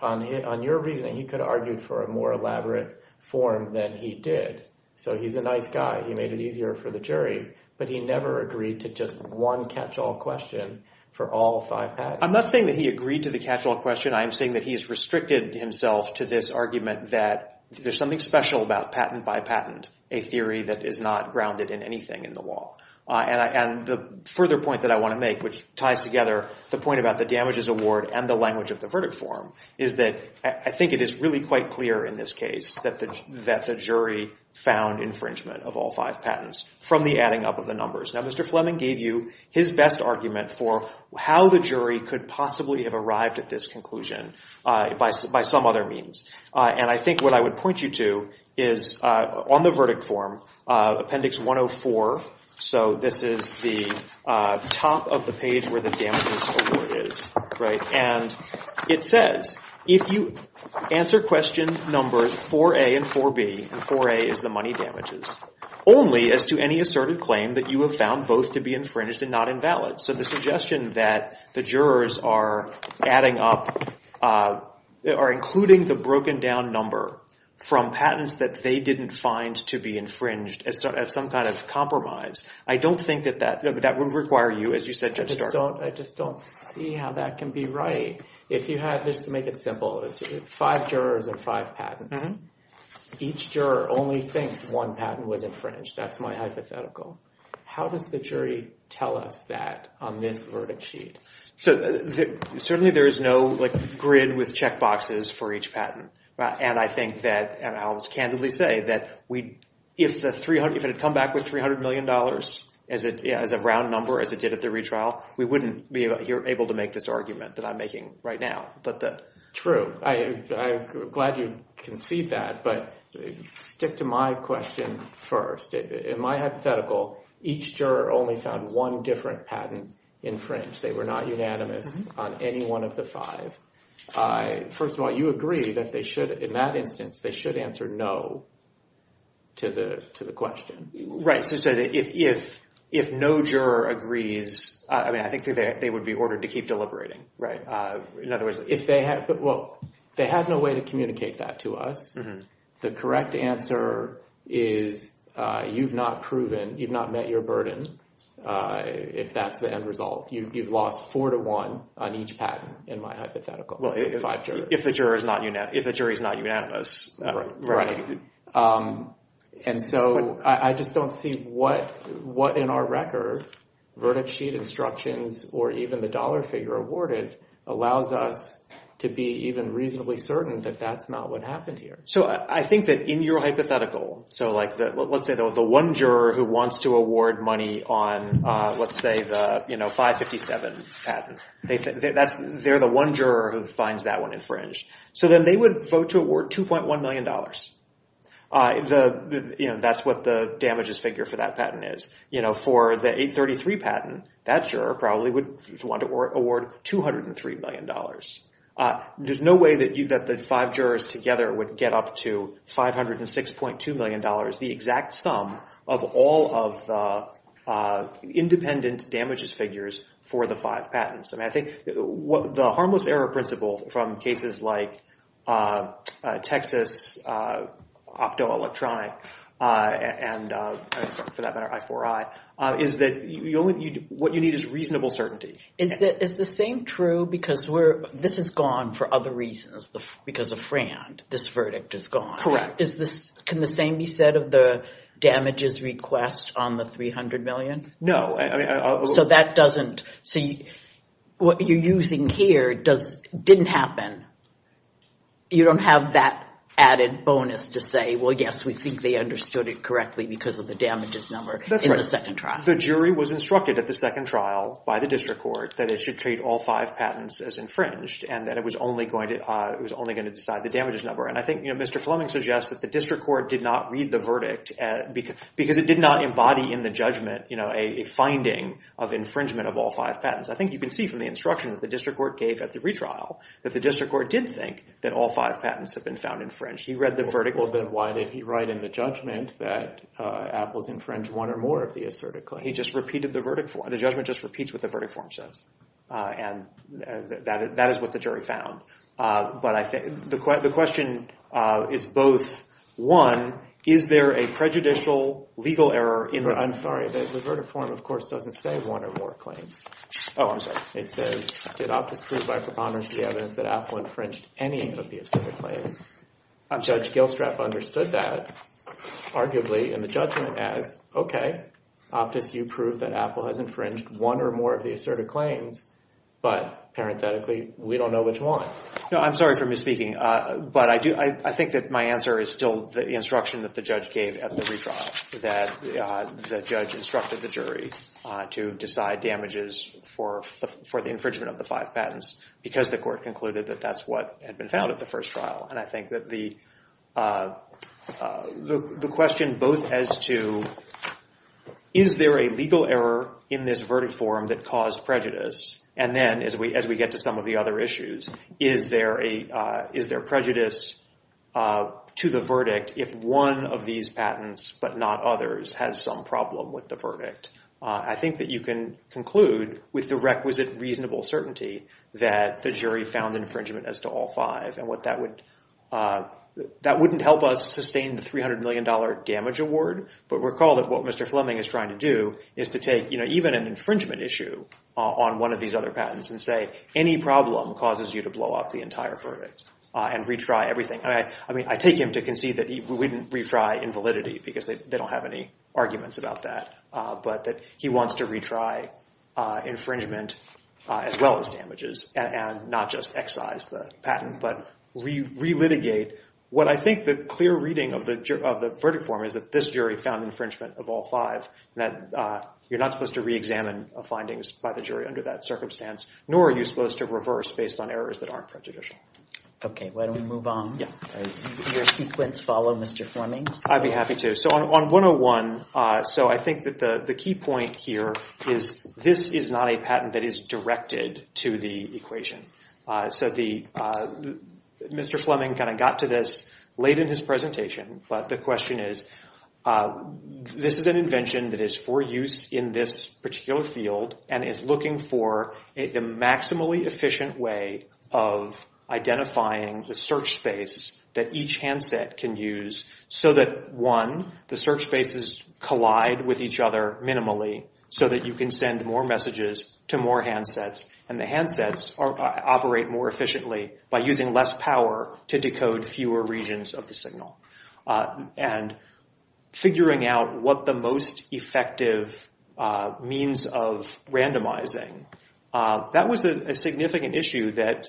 on your reasoning, he could have argued for a more elaborate form than he did. So he's a nice guy. He made it easier for the jury. But he never agreed to just one catch-all question for all five patents. I'm not saying that he agreed to the catch-all question. I'm saying that he's restricted himself to this argument that there's something special about patent by patent, a theory that is not grounded in anything in the law. And the further point that I want to make, which ties together the point about the damages award and the language of the verdict form, is that I think it is really quite clear in this case that the jury found infringement of all five patents from the adding up of the numbers. Now, Mr. Fleming gave you his best argument for how the jury could possibly have arrived at this conclusion by some other means. And I think what I would point you to is on the verdict form, appendix 104. So this is the top of the page where the damages award is. And it says, if you answer question number 4A and 4B, and 4A is the money damages, only as to any assertive claim that you have found both to be infringed and not invalid. So the suggestion that the jurors are including the broken down number from patents that they didn't find to be infringed as some kind of compromise, I don't think that that would require you, as you said to start. I just don't see how that can be right. If you had, just to make it simple, five jurors and five patents, each juror only thinks one patent was infringed. That's my hypothetical. How does the jury tell us that on this verdict sheet? So certainly there is no grid with checkboxes for each patent. And I think that, and I'll just candidly say that if it had come back with $300 million as a round number as it did at the retrial, we wouldn't be able to make this argument that I'm making right now. True. I'm glad you can see that. But just to my question first, in my hypothetical, each juror only found one different patent infringed. They were not unanimous on any one of the five. First of all, you agree that they should, in that instance, they should answer no to the question. Right. So if no juror agrees, I think they would be ordered to keep deliberating. Right. Well, they have no way to communicate that to us. The correct answer is you've not proven, you've not met your burden, if that's the end result. You've lost four to one on each patent in my hypothetical. If the jury is not unanimous. Right. And so I just don't see what in our record, the verdict sheet instructions or even the dollar figure awarded allows us to be even reasonably certain that that's not what happened here. So I think that in your hypothetical, so like let's say there was one juror who wants to award money on, let's say, the 557 patent. They're the one juror who finds that one infringed. So then they would vote to award $2.1 million. That's what the damages figure for that patent is. For the 833 patent, that juror probably would want to award $203 million. There's no way that the five jurors together would get up to $506.2 million, the exact sum of all of the independent damages figures for the five patents. And I think the harmless error principle from cases like Texas, optoelectronic, and for that matter, I4I, is that what you need is reasonable certainty. Is the same true because this is gone for other reasons because of FRAND. This verdict is gone. Correct. Can the same be said of the damages requests on the $300 million? No. So that doesn't – so what you're using here didn't happen. You don't have that added bonus to say, well, yes, we think they understood it correctly because of the damages number in the second trial. So the jury was instructed at the second trial by the district court that it should treat all five patents as infringed and that it was only going to decide the damages number. And I think Mr. Fleming suggests that the district court did not read the verdict because it did not embody in the judgment a finding of infringement of all five patents. I think you can see from the instruction that the district court gave at the retrial that the district court did think that all five patents had been found infringed. He read the verdict. Well, then why did he write in the judgment that Apples infringed one or more of the asserted claims? He just repeated the verdict form. The judgment just repeats what the verdict form says, and that is what the jury found. But I think the question is both, one, is there a prejudicial legal error in the – I'm sorry. The verdict form, of course, doesn't say one or more claims. Oh, I'm sorry. It says, did Optic prove by preponderance of the evidence that Apple infringed any of the asserted claims? Judge Gilstrap understood that, arguably, and the judgment added, okay, Optic, you proved that Apple has infringed one or more of the asserted claims, but parenthetically, we don't know which one. No, I'm sorry for misspeaking. But I think that my answer is still the instruction that the judge gave at the retrial, that the judge instructed the jury to decide damages for the infringement of the five patents because the court concluded that that's what had been found at the first trial. And I think that the question both as to, is there a legal error in this verdict form that caused prejudice, and then, as we get to some of the other issues, is there prejudice to the verdict if one of these patents, but not others, has some problem with the verdict? I think that you can conclude with the requisite reasonable certainty that the jury found infringement as to all five. And that wouldn't help us sustain the $300 million damage award, but recall that what Mr. Fleming is trying to do is to take even an infringement issue on one of these other patents and say any problem causes you to blow up the entire verdict and retry everything. I mean, I take him to concede that he wouldn't retry invalidity because they don't have any arguments about that, but that he wants to retry infringement as well as damages, and not just excise the patent, but re-litigate. What I think the clear reading of the verdict form is that this jury found infringement of all five, and that you're not supposed to re-examine findings by the jury under that circumstance, nor are you supposed to reverse based on errors that aren't prejudicial. Okay, why don't we move on? Your sequence follow, Mr. Fleming? I'd be happy to. So on 101, I think that the key point here is this is not a patent that is directed to the equation. So Mr. Fleming kind of got to this late in his presentation, but the question is this is an invention that is for use in this particular field and is looking for a maximally efficient way of identifying the search space that each handset can use so that, one, the search spaces collide with each other minimally so that you can send more messages to more handsets, and the handsets operate more efficiently by using less power to decode fewer regions of the signal, and figuring out what the most effective means of randomizing. That was a significant issue that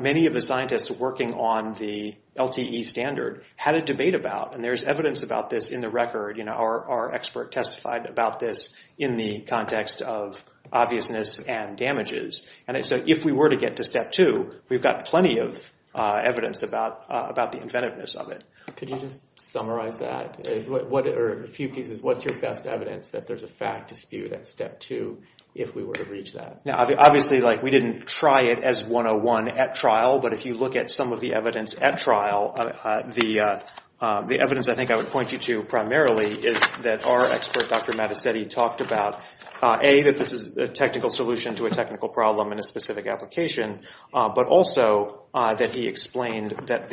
many of the scientists working on the LTE standard had a debate about, and there's evidence about this in the record. Our expert testified about this in the context of obviousness and damages. And so if we were to get to step two, we've got plenty of evidence about the inventiveness of it. Could you just summarize that? Or in a few pieces, what's your best evidence that there's a fact dispute at step two if we were to reach that? Now, obviously, we didn't try it as 101 at trial, but if you look at some of the evidence at trial, the evidence I think I would point you to primarily is that our expert, Dr. Mattacetti, talked about A, that this is a technical solution to a technical problem in a specific application, but also that he explained that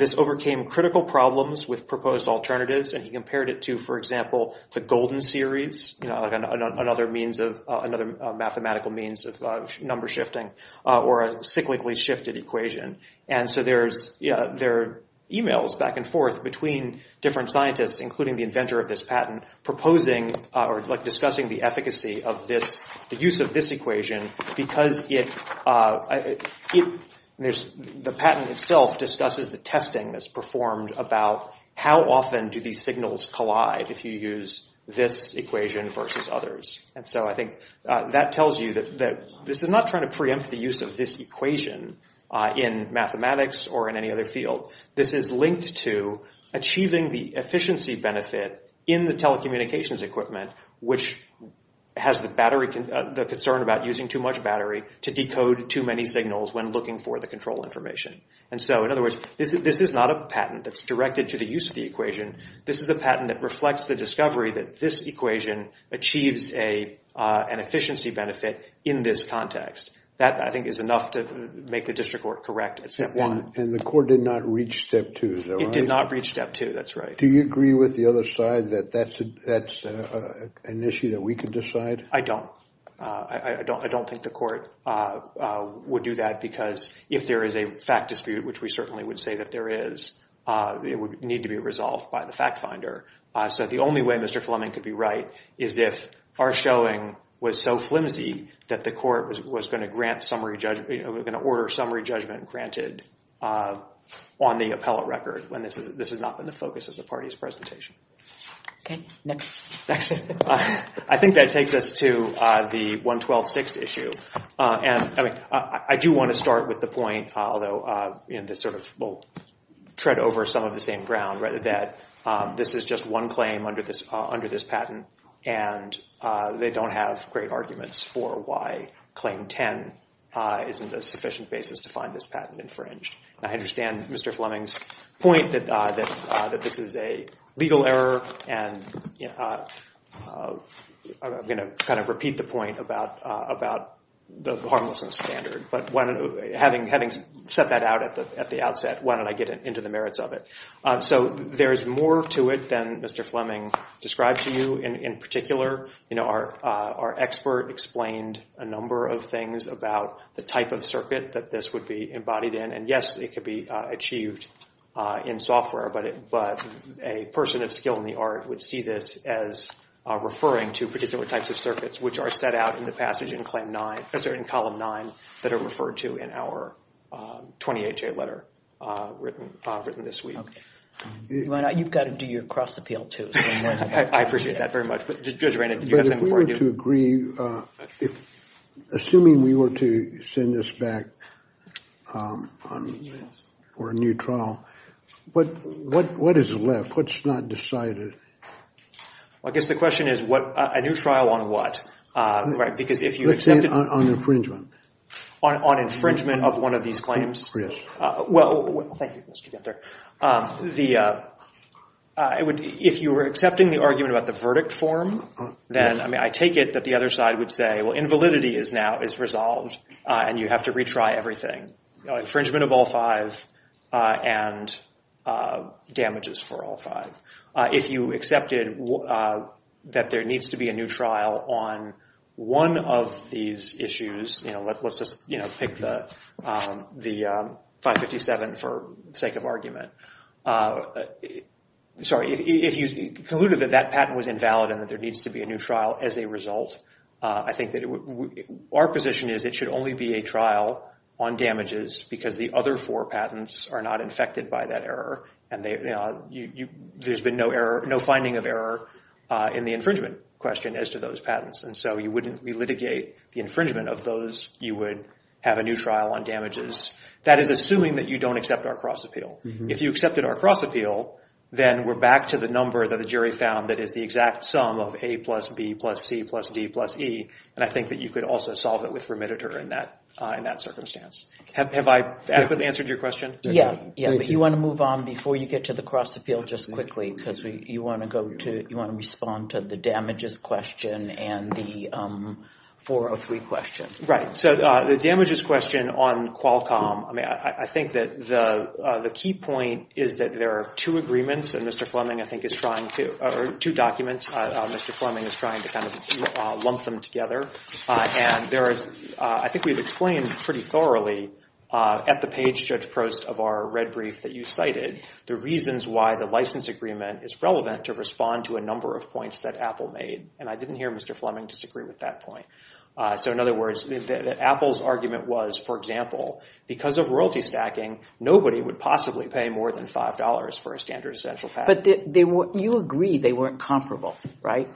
this overcame critical problems with proposed alternatives, and he compared it to, for example, the golden series, another mathematical means of number shifting, or a cyclically shifted equation. And so there are emails back and forth between different scientists, including the inventor of this patent, proposing or discussing the efficacy of the use of this equation because the patent itself discusses the testing that's performed about how often do these signals collide if you use this equation versus others. And so I think that tells you that this is not trying to preempt the use of this equation in mathematics or in any other field. This is linked to achieving the efficiency benefit in the telecommunications equipment, which has the concern about using too much battery to decode too many signals when looking for the control information. And so, in other words, this is not a patent that's directed to the use of the equation. This is a patent that reflects the discovery that this equation achieves an efficiency benefit in this context. That, I think, is enough to make the district court correct at Step 1. And the court did not reach Step 2, though, right? It did not reach Step 2, that's right. Do you agree with the other side that that's an issue that we can decide? I don't. I don't think the court would do that because if there is a fact dispute, which we certainly would say that there is, it would need to be resolved by the fact finder. So the only way Mr. Fleming could be right is if our showing was so flimsy that the court was going to order summary judgment granted on the appellate record when this is not the focus of the party's presentation. Okay, next. I think that takes us to the 112-6 issue. I do want to start with the point, although we'll tread over some of the same ground, that this is just one claim under this patent and they don't have great arguments for why Claim 10 isn't a sufficient basis to find this patent infringed. I understand Mr. Fleming's point that this is a legal error and I'm going to kind of repeat the point about the harmlessness standard. But having said that out at the outset, why don't I get into the merits of it? So there's more to it than Mr. Fleming described to you. In particular, our expert explained a number of things about the type of circuit that this would be embodied in. And yes, it could be achieved in software, but a person of skill in the art would see this as referring to particular types of circuits which are set out in the passage in Column 9 that are referred to in our 20HA letter written this week. You've got to do your cross appeal too. I appreciate that very much. But if we were to agree, assuming we were to send this back for a new trial, what is left? What's not decided? I guess the question is a new trial on what? Let's say on infringement. On infringement of one of these claims? Well, if you were accepting the argument about the verdict form, then I take it that the other side would say, well, invalidity is resolved and you have to retry everything. Infringement of all five and damages for all five. If you accepted that there needs to be a new trial on one of these issues, let's just pick the 557 for sake of argument. Sorry, if you concluded that that patent was invalid and that there needs to be a new trial as a result, I think that our position is it should only be a trial on damages because the other four patents are not infected by that error. And there's been no finding of error in the infringement question as to those patents. And so you wouldn't re-litigate the infringement of those. You would have a new trial on damages. That is assuming that you don't accept our cross-appeal. If you accepted our cross-appeal, then we're back to the number that the jury found that is the exact sum of A plus B plus C plus D plus E. And I think that you could also solve it with remitter in that circumstance. Have I answered your question? If you want to move on before you get to the cross-appeal just quickly because you want to respond to the damages question and the 403 question. Right. So the damages question on Qualcomm, I think that the key point is that there are two agreements that Mr. Fleming, I think, is trying to – or two documents. Mr. Fleming is trying to kind of lump them together. And I think we've explained pretty thoroughly at the page, Judge Prost, of our red brief that you cited the reasons why the license agreement is relevant to respond to a number of points that Apple made. And I didn't hear Mr. Fleming disagree with that point. So in other words, Apple's argument was, for example, because of royalty stacking, nobody would possibly pay more than $5 for a standard essential package. But you agree they weren't comparable, right?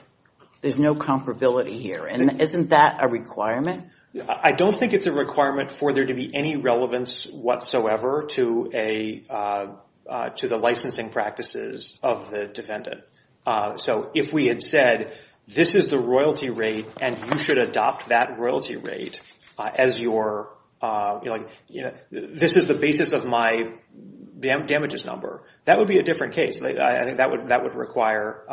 There's no comparability here. And isn't that a requirement? I don't think it's a requirement for there to be any relevance whatsoever to the licensing practices of the defendant. So if we had said, this is the royalty rate, and you should adopt that royalty rate as your – this is the basis of my damages number, that would be a different case. I think that would require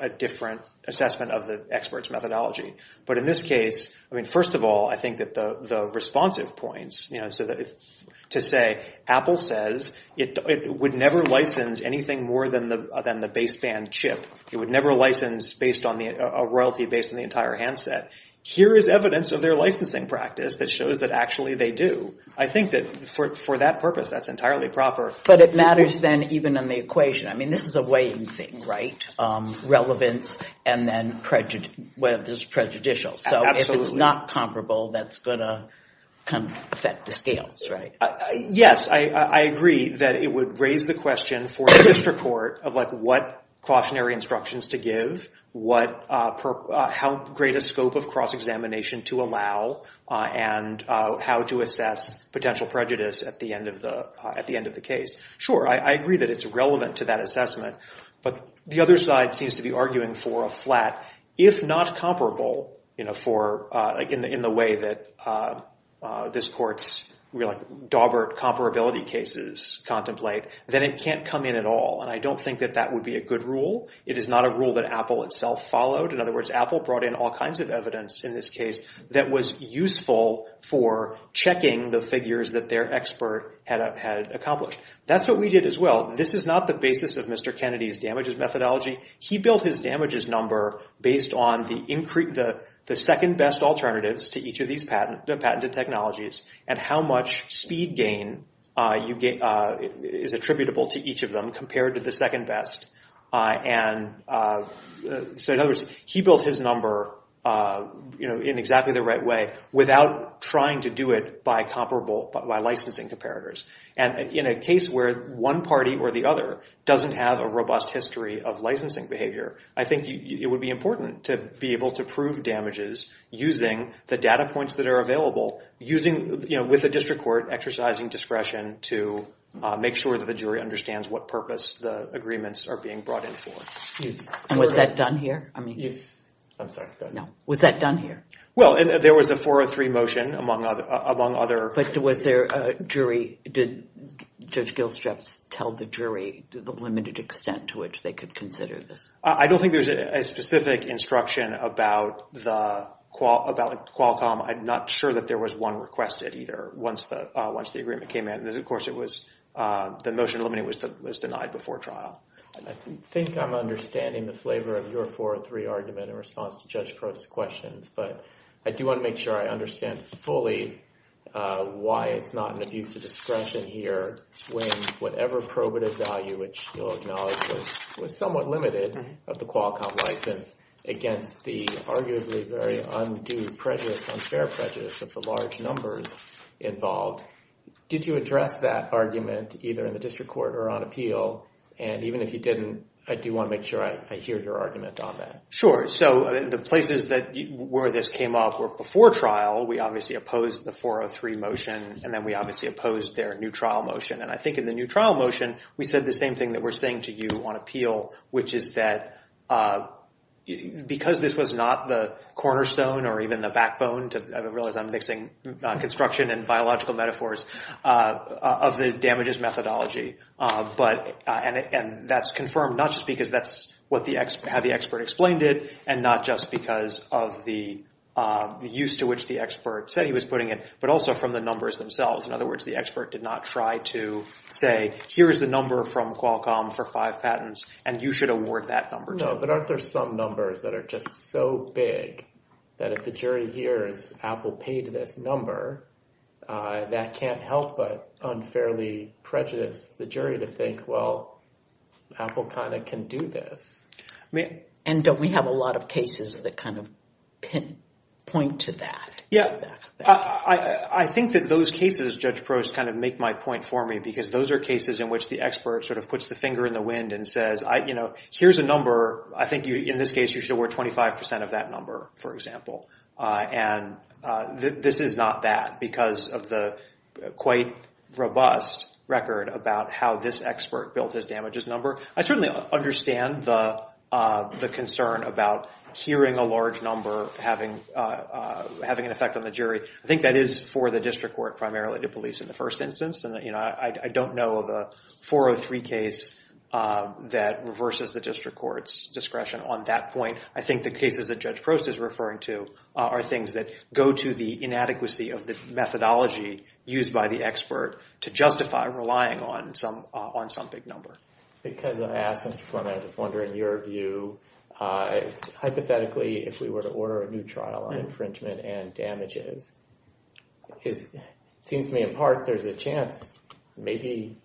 a different assessment of the expert's methodology. But in this case, first of all, I think that the responsive points, to say Apple says it would never license anything more than the baseband chip. It would never license a royalty based on the entire handset. Here is evidence of their licensing practice that shows that actually they do. I think that for that purpose, that's entirely proper. But it matters then even in the equation. I mean, this is a weighing thing, right? Relevance and then whether it's prejudicial. So if it's not comparable, that's going to affect the scales, right? Yes, I agree that it would raise the question for this report of what cautionary instructions to give, how great a scope of cross-examination to allow, and how to assess potential prejudice at the end of the case. Sure, I agree that it's relevant to that assessment. But the other side seems to be arguing for a flat, if not comparable in the way that this court's dauber comparability cases contemplate, then it can't come in at all. I don't think that that would be a good rule. It is not a rule that Apple itself followed. In other words, Apple brought in all kinds of evidence in this case that was useful for checking the figures that their expert had accomplished. That's what we did as well. This is not the basis of Mr. Kennedy's damages methodology. He built his damages number based on the second-best alternatives to each of these patented technologies and how much speed gain is attributable to each of them compared to the second-best. So in other words, he built his number in exactly the right way without trying to do it by licensing comparators. And in a case where one party or the other doesn't have a robust history of licensing behavior, I think it would be important to be able to prove damages using the data points that are available, with the district court exercising discretion to make sure that the jury understands what purpose the agreements are being brought in for. And was that done here? No. Was that done here? Well, there was a 403 motion among other... Did Judge Gilstrap tell the jury the limited extent to which they could consider this? I don't think there was a specific instruction about Qualcomm. I'm not sure that there was one requested either once the agreement came in. Of course, the motion limiting was denied before trial. I think I'm understanding the flavor of your 403 argument in response to Judge Crote's question, but I do want to make sure I understand fully why it's not an abuse of discretion here when whatever probative value, which you'll acknowledge, was somewhat limited of the Qualcomm license against the arguably very undue unfair prejudice of the large numbers involved. Did you address that argument either in the district court or on appeal? And even if you didn't, I do want to make sure I hear your argument on that. Sure. So the places where this came up were before trial. We obviously opposed the 403 motion, and then we obviously opposed their new trial motion. And I think in the new trial motion, we said the same thing that we're saying to you on appeal, which is that because this was not the cornerstone or even the backbone, I realize I'm mixing construction and biological metaphors, of the damages methodology, and that's confirmed not just because that's how the expert explained it and not just because of the use to which the expert said he was putting it, but also from the numbers themselves. In other words, the expert did not try to say, here's the number from Qualcomm for five patents and you should award that number to us. No, but aren't there some numbers that are just so big that if the jury hears Apple paid this number, that can't help but unfairly prejudice the jury to think, well, Apple kind of can do this. And don't we have a lot of cases that kind of point to that? Yeah, I think that those cases, Judge Prost, kind of make my point for me, because those are cases in which the expert sort of puts the finger in the wind and says, here's a number, I think in this case, you should award 25% of that number, for example. And this is not that, because of the quite robust record about how this expert built this damages number. I certainly understand the concern about hearing a large number, having an effect on the jury. I think that is for the district court, primarily to police in the first instance. And I don't know of a 403 case that reverses the district court's discretion on that point. I think the cases that Judge Prost is referring to are things that go to the inadequacy of this methodology used by the expert to justify relying on some big number. Because of that, Mr. Flynn, I was wondering your view. Hypothetically, if we were to order a new trial on infringement and damages, it seems to me, in part, there's a chance maybe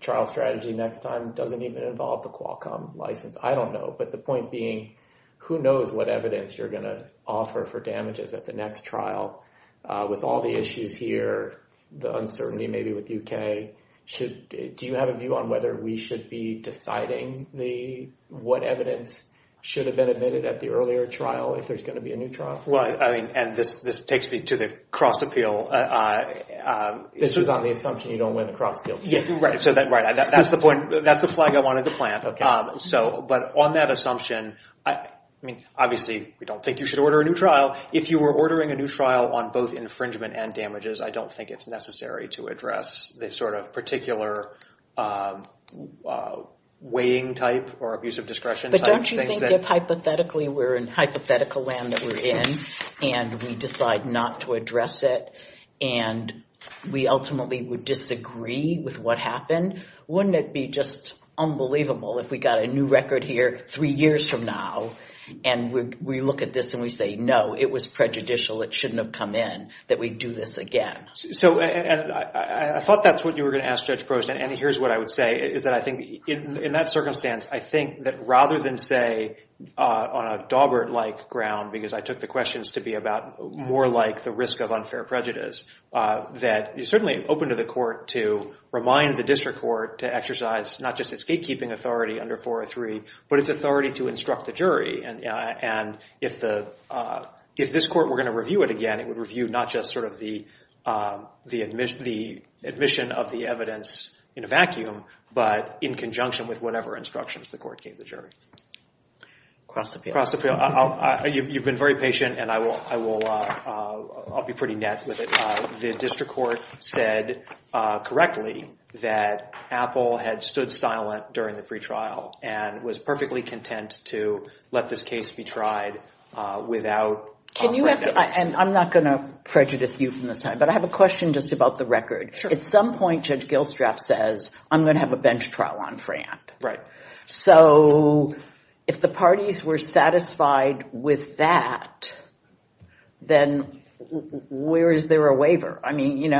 trial strategy next time doesn't even involve the Qualcomm license. I don't know, but the point being, who knows what evidence you're going to offer for damages at the next trial with all the issues here, the uncertainty maybe with UK. Do you have a view on whether we should be deciding what evidence should have been admitted at the earlier trial if there's going to be a new trial? And this takes me to the cross-appeal. This is on the assumption you don't win the cross-appeal. Yes, right. That's the point. That's the flag I wanted to plant. But on that assumption, obviously, we don't think you should order a new trial. Now, if you were ordering a new trial on both infringement and damages, I don't think it's necessary to address this sort of particular weighing type or abuse of discretion type of thing. But don't you think that hypothetically, we're in hypothetical land that we're in and we decide not to address it and we ultimately would disagree with what happened? Wouldn't it be just unbelievable if we got a new record here three years from now and we look at this and we say, no, it was prejudicial, it shouldn't have come in, that we'd do this again? I thought that's what you were going to ask, Judge Grossman, and here's what I would say. In that circumstance, I think that rather than say, on a Dawbert-like ground, because I took the questions to be about more like the risk of unfair prejudice, that you're certainly open to the court to remind the district court to exercise not just its gatekeeping authority under 403, but its authority to instruct the jury. And if this court were going to review it again, it would review not just sort of the admission of the evidence in a vacuum, but in conjunction with whatever instructions the court gave the jury. Across the field. You've been very patient and I'll be pretty nasty with it. The district court said correctly that Apple had stood silent during the pretrial and was perfectly content to let this case be tried without... Can you ask, and I'm not going to prejudice you from the side, but I have a question just about the record. At some point, Judge Gilstraff says, I'm going to have a bench trial on Fran. Right. So if the parties were satisfied with that, then where is there a waiver? I mean,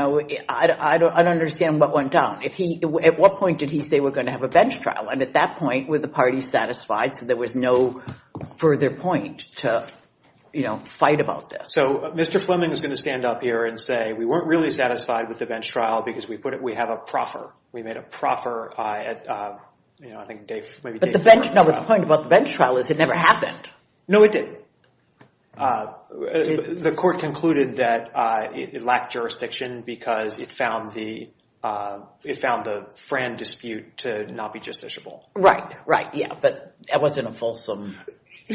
I don't understand what went down. At what point did he say we're going to have a bench trial? And at that point, were the parties satisfied? So there was no further point to fight about this. So Mr. Fleming is going to stand up here and say, we weren't really satisfied with the bench trial because we have a proffer. We made a proffer. But the point about the bench trial is it never happened. No, it didn't. The court concluded that it lacked jurisdiction because it found the Fran dispute to not be justiciable. Right. Yeah, but that wasn't a fulsome...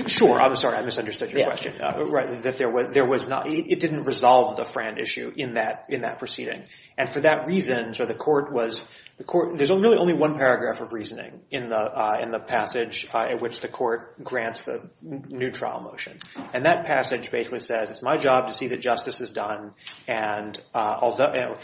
Sure. I'm sorry. I misunderstood your question. It didn't resolve the Fran issue in that proceeding. And for that reason, the court was... There's really only one paragraph of reasoning in the passage in which the court grants the new trial motion. And that passage basically says, it's my job to see that justice is done and although...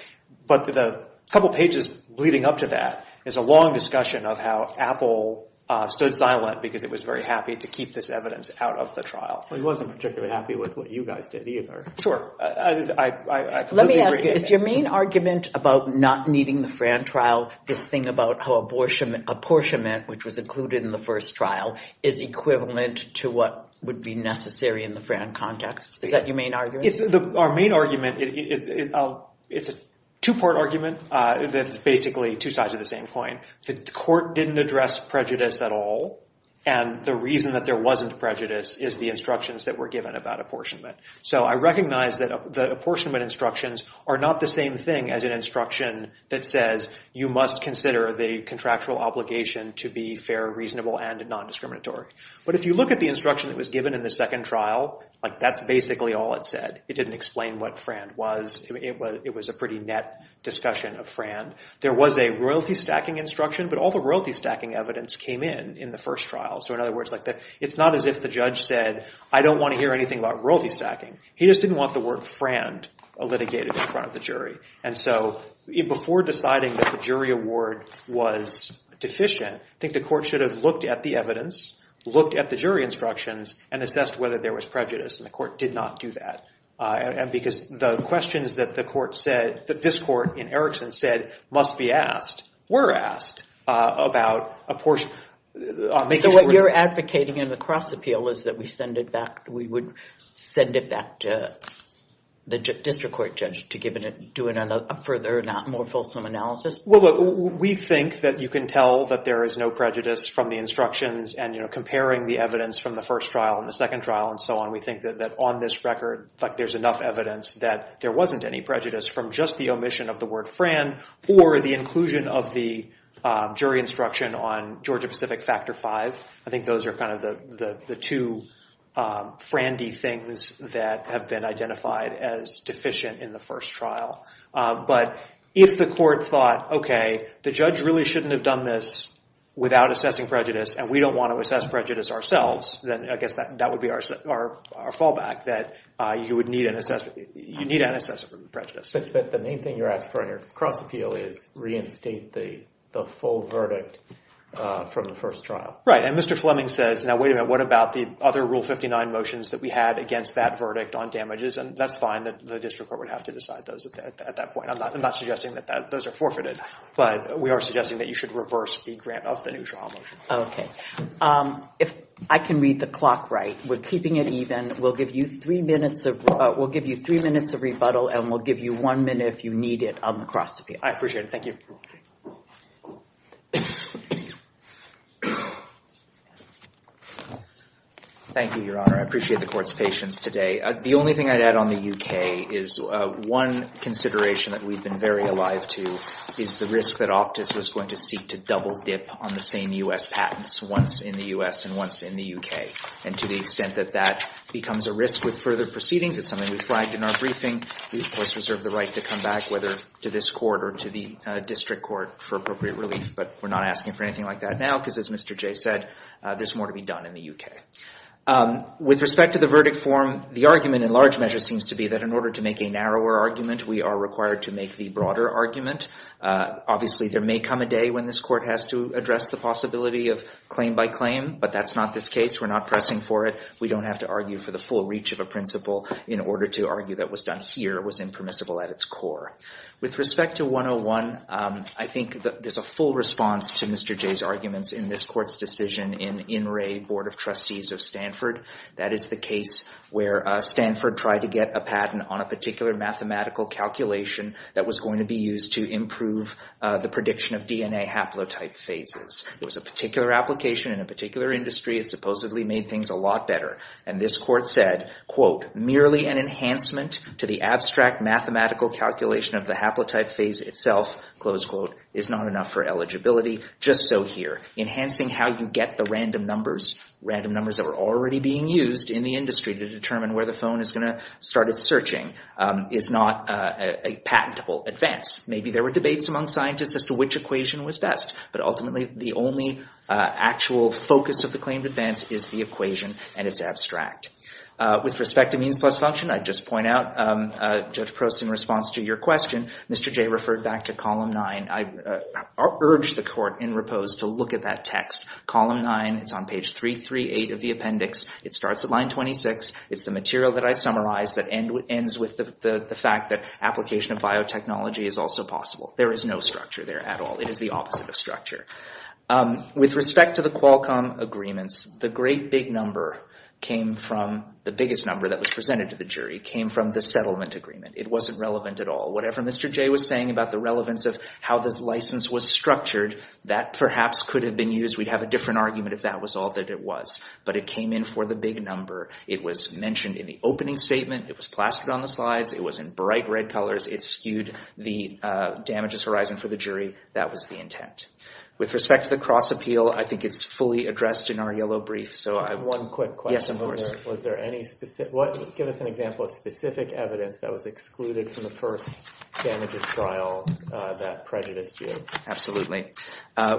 But the couple of pages leading up to that is a long discussion of how Apple stood silent because it was very happy to keep this evidence out of the trial. Well, he wasn't particularly happy with what you guys did either. Sure. Let me ask, is your main argument about not meeting the Fran trial this thing about how apportionment, which was included in the first trial, is equivalent to what would be necessary in the Fran context? Is that your main argument? Our main argument, it's a two-part argument that's basically two sides of the same coin. The court didn't address prejudice at all. And the reason that there wasn't prejudice is the instructions that were given about apportionment. So I recognize that the apportionment instructions are not the same thing as an instruction that says, you must consider the contractual obligation to be fair, reasonable, and non-discriminatory. But if you look at the instruction that was given in the second trial, that's basically all it said. It didn't explain what Fran was. It was a pretty net discussion of Fran. There was a royalty stacking instruction, but all the royalty stacking evidence came in in the first trial. So in other words, it's not as if the judge said, I don't want to hear anything about royalty stacking. He just didn't want the word Fran litigated in front of the jury. And so before deciding that the jury award was deficient, I think the court should have looked at the evidence, looked at the jury instructions, and assessed whether there was prejudice. And the court did not do that. And because the questions that the court said, that this court in Erickson said must be asked, were asked about apportionment. So what you're advocating in the cross appeal is that we send it back, we would send it back to the district court judge to do a further, not more fulsome analysis? Well, we think that you can tell that there is no prejudice from the instructions and comparing the evidence from the first trial and the second trial and so on. We think that on this record, there's enough evidence that there wasn't any prejudice from just the omission of the word Fran or the inclusion of the jury instruction on Georgia Pacific Factor V. I think those are kind of the two frandy things that have been identified as deficient in the first trial. But if the court thought, okay, the judge really shouldn't have done this without assessing prejudice and we don't want to assess prejudice ourselves, then I guess that would be our fallback, that you would need an assessment, you need an assessment of prejudice. But the main thing you're asking for in a cross appeal is reinstate the full verdict from the first trial. Right, and Mr. Fleming says, now wait a minute, what about the other Rule 59 motions that we had against that verdict on damages? And that's fine, the district court would have to decide those at that point. I'm not suggesting that those are forfeited, but we are suggesting that you should reverse the grant of the new trial motion. Okay. If I can read the clock right, we're keeping it even, we'll give you three minutes of rebuttal and we'll give you one minute if you need it on the cross appeal. I appreciate it, thank you. Thank you, Your Honor. I appreciate the court's patience today. The only thing I'd add on the UK is one consideration that we've been very alive to is the risk that Optus is going to seek to double dip on the same U.S. patents once in the U.S. and once in the UK. And to the extent that that becomes a risk with further proceedings, it's something we flagged in our briefing, we of course reserve the right to come back, whether to this court or to the district court for appropriate relief. But we're not asking for anything like that now, because as Mr. Jay said, there's more to be done in the UK. With respect to the verdict form, the argument in large measure seems to be that in order to make a narrower argument, we are required to make the broader argument. Obviously there may come a day when this court has to address the possibility of claim by claim, but that's not this case. We're not pressing for it. We don't have to argue for the full reach of a principle in order to argue that what's done here was impermissible at its core. With respect to 101, I think there's a full response to Mr. Jay's argument in this court's decision in In Re, Board of Trustees of Stanford. That is the case where Stanford tried to get a patent on a particular mathematical calculation that was going to be used to improve the prediction of DNA haplotype phases. It was a particular application in a particular industry. It supposedly made things a lot better, and this court said, merely an enhancement to the abstract mathematical calculation of the haplotype phase itself, close quote, is not enough for eligibility. Just so here, enhancing how you get the random numbers, random numbers that are already being used in the industry to determine where the phone is going to start its searching is not a patentable advance. Maybe there were debates among scientists as to which equation was best, but ultimately, the only actual focus of the claimed advance is the equation, and it's abstract. With respect to means plus function, I'd just point out, Judge Prost, in response to your question, Mr. Jay referred back to column nine. I urge the court in repose to look at that text. Column nine, it's on page 338 of the appendix. It starts at line 26. It's the material that I've summarized that ends with the fact that application of biotechnology is also possible. There is no structure there at all. It is the opposite of structure. With respect to the Qualcomm agreements, the great big number came from, the biggest number that was presented to the jury, came from the settlement agreement. It wasn't relevant at all. Whatever Mr. Jay was saying about the relevance of how the license was structured, that perhaps could have been used. We'd have a different argument if that was all that it was, but it came in for the big number. It was mentioned in the opening statement. It was plastered on the slides. It was in bright red colors. It skewed the damages horizon for the jury. That was the intent. With respect to the cross appeal, I think it's fully addressed in our yellow brief. One quick question. Yes, of course. Give us an example of specific evidence that was excluded from the first damages trial that prejudiced you. Absolutely.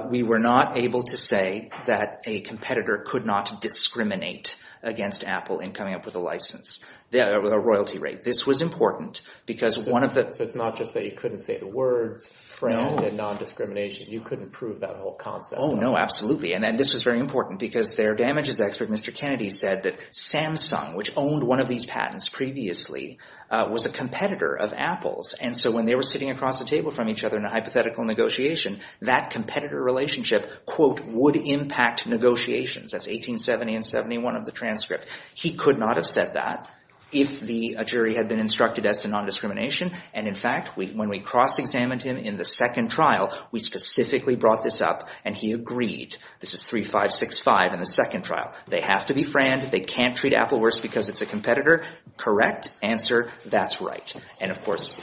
We were not able to say that a competitor could not discriminate against Apple in coming up with a license, a royalty rate. This was important because one of the... It's not just that you couldn't say the word friend and non-discrimination. You couldn't prove that whole concept. No, absolutely. This was very important because their damages expert, Mr. Kennedy, said that Samsung, which owned one of these patents previously, was a competitor of Apple's. When they were sitting across the table from each other in a hypothetical negotiation, that competitor relationship would impact negotiations. That's 1870 and 71 of the transcript. He could not have said that if the jury had been instructed that it's a non-discrimination. In fact, when we cross-examined him in the second trial, we specifically brought this up and he agreed. This is 3565 in the second trial. They have to be friends. They can't treat Apple worse because it's a competitor. Correct answer. That's right. Of course,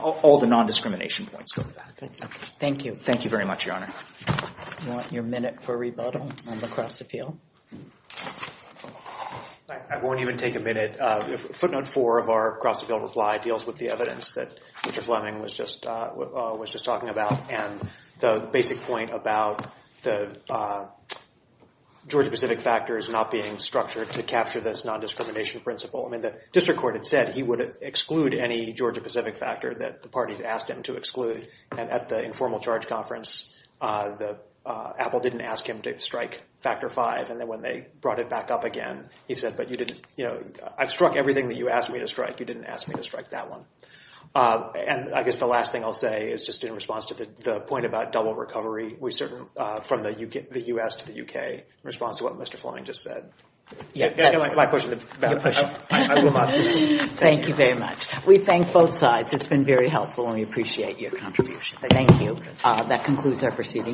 all the non-discrimination points. Thank you. Thank you very much, Your Honor. Do you want your minute for rebuttal from across the field? I won't even take a minute. Footnote four of our cross-the-field reply deals with the evidence that Mr. Fleming was just talking about and the basic point about the Georgia-Pacific factor not being structured to capture this non-discrimination principle. The district court had said he would exclude any Georgia-Pacific factor that the parties asked him to exclude. At the informal charge conference, Apple didn't ask him to strike factor five. When they brought it back up again, he said, I've struck everything that you asked me to strike. You didn't ask me to strike that one. I guess the last thing I'll say is just in response to the point about double recovery, from the U.S. to the U.K., in response to what Mr. Fleming just said. Thank you very much. We thank both sides. It's been very helpful and we appreciate your contribution. Thank you. That concludes our proceedings.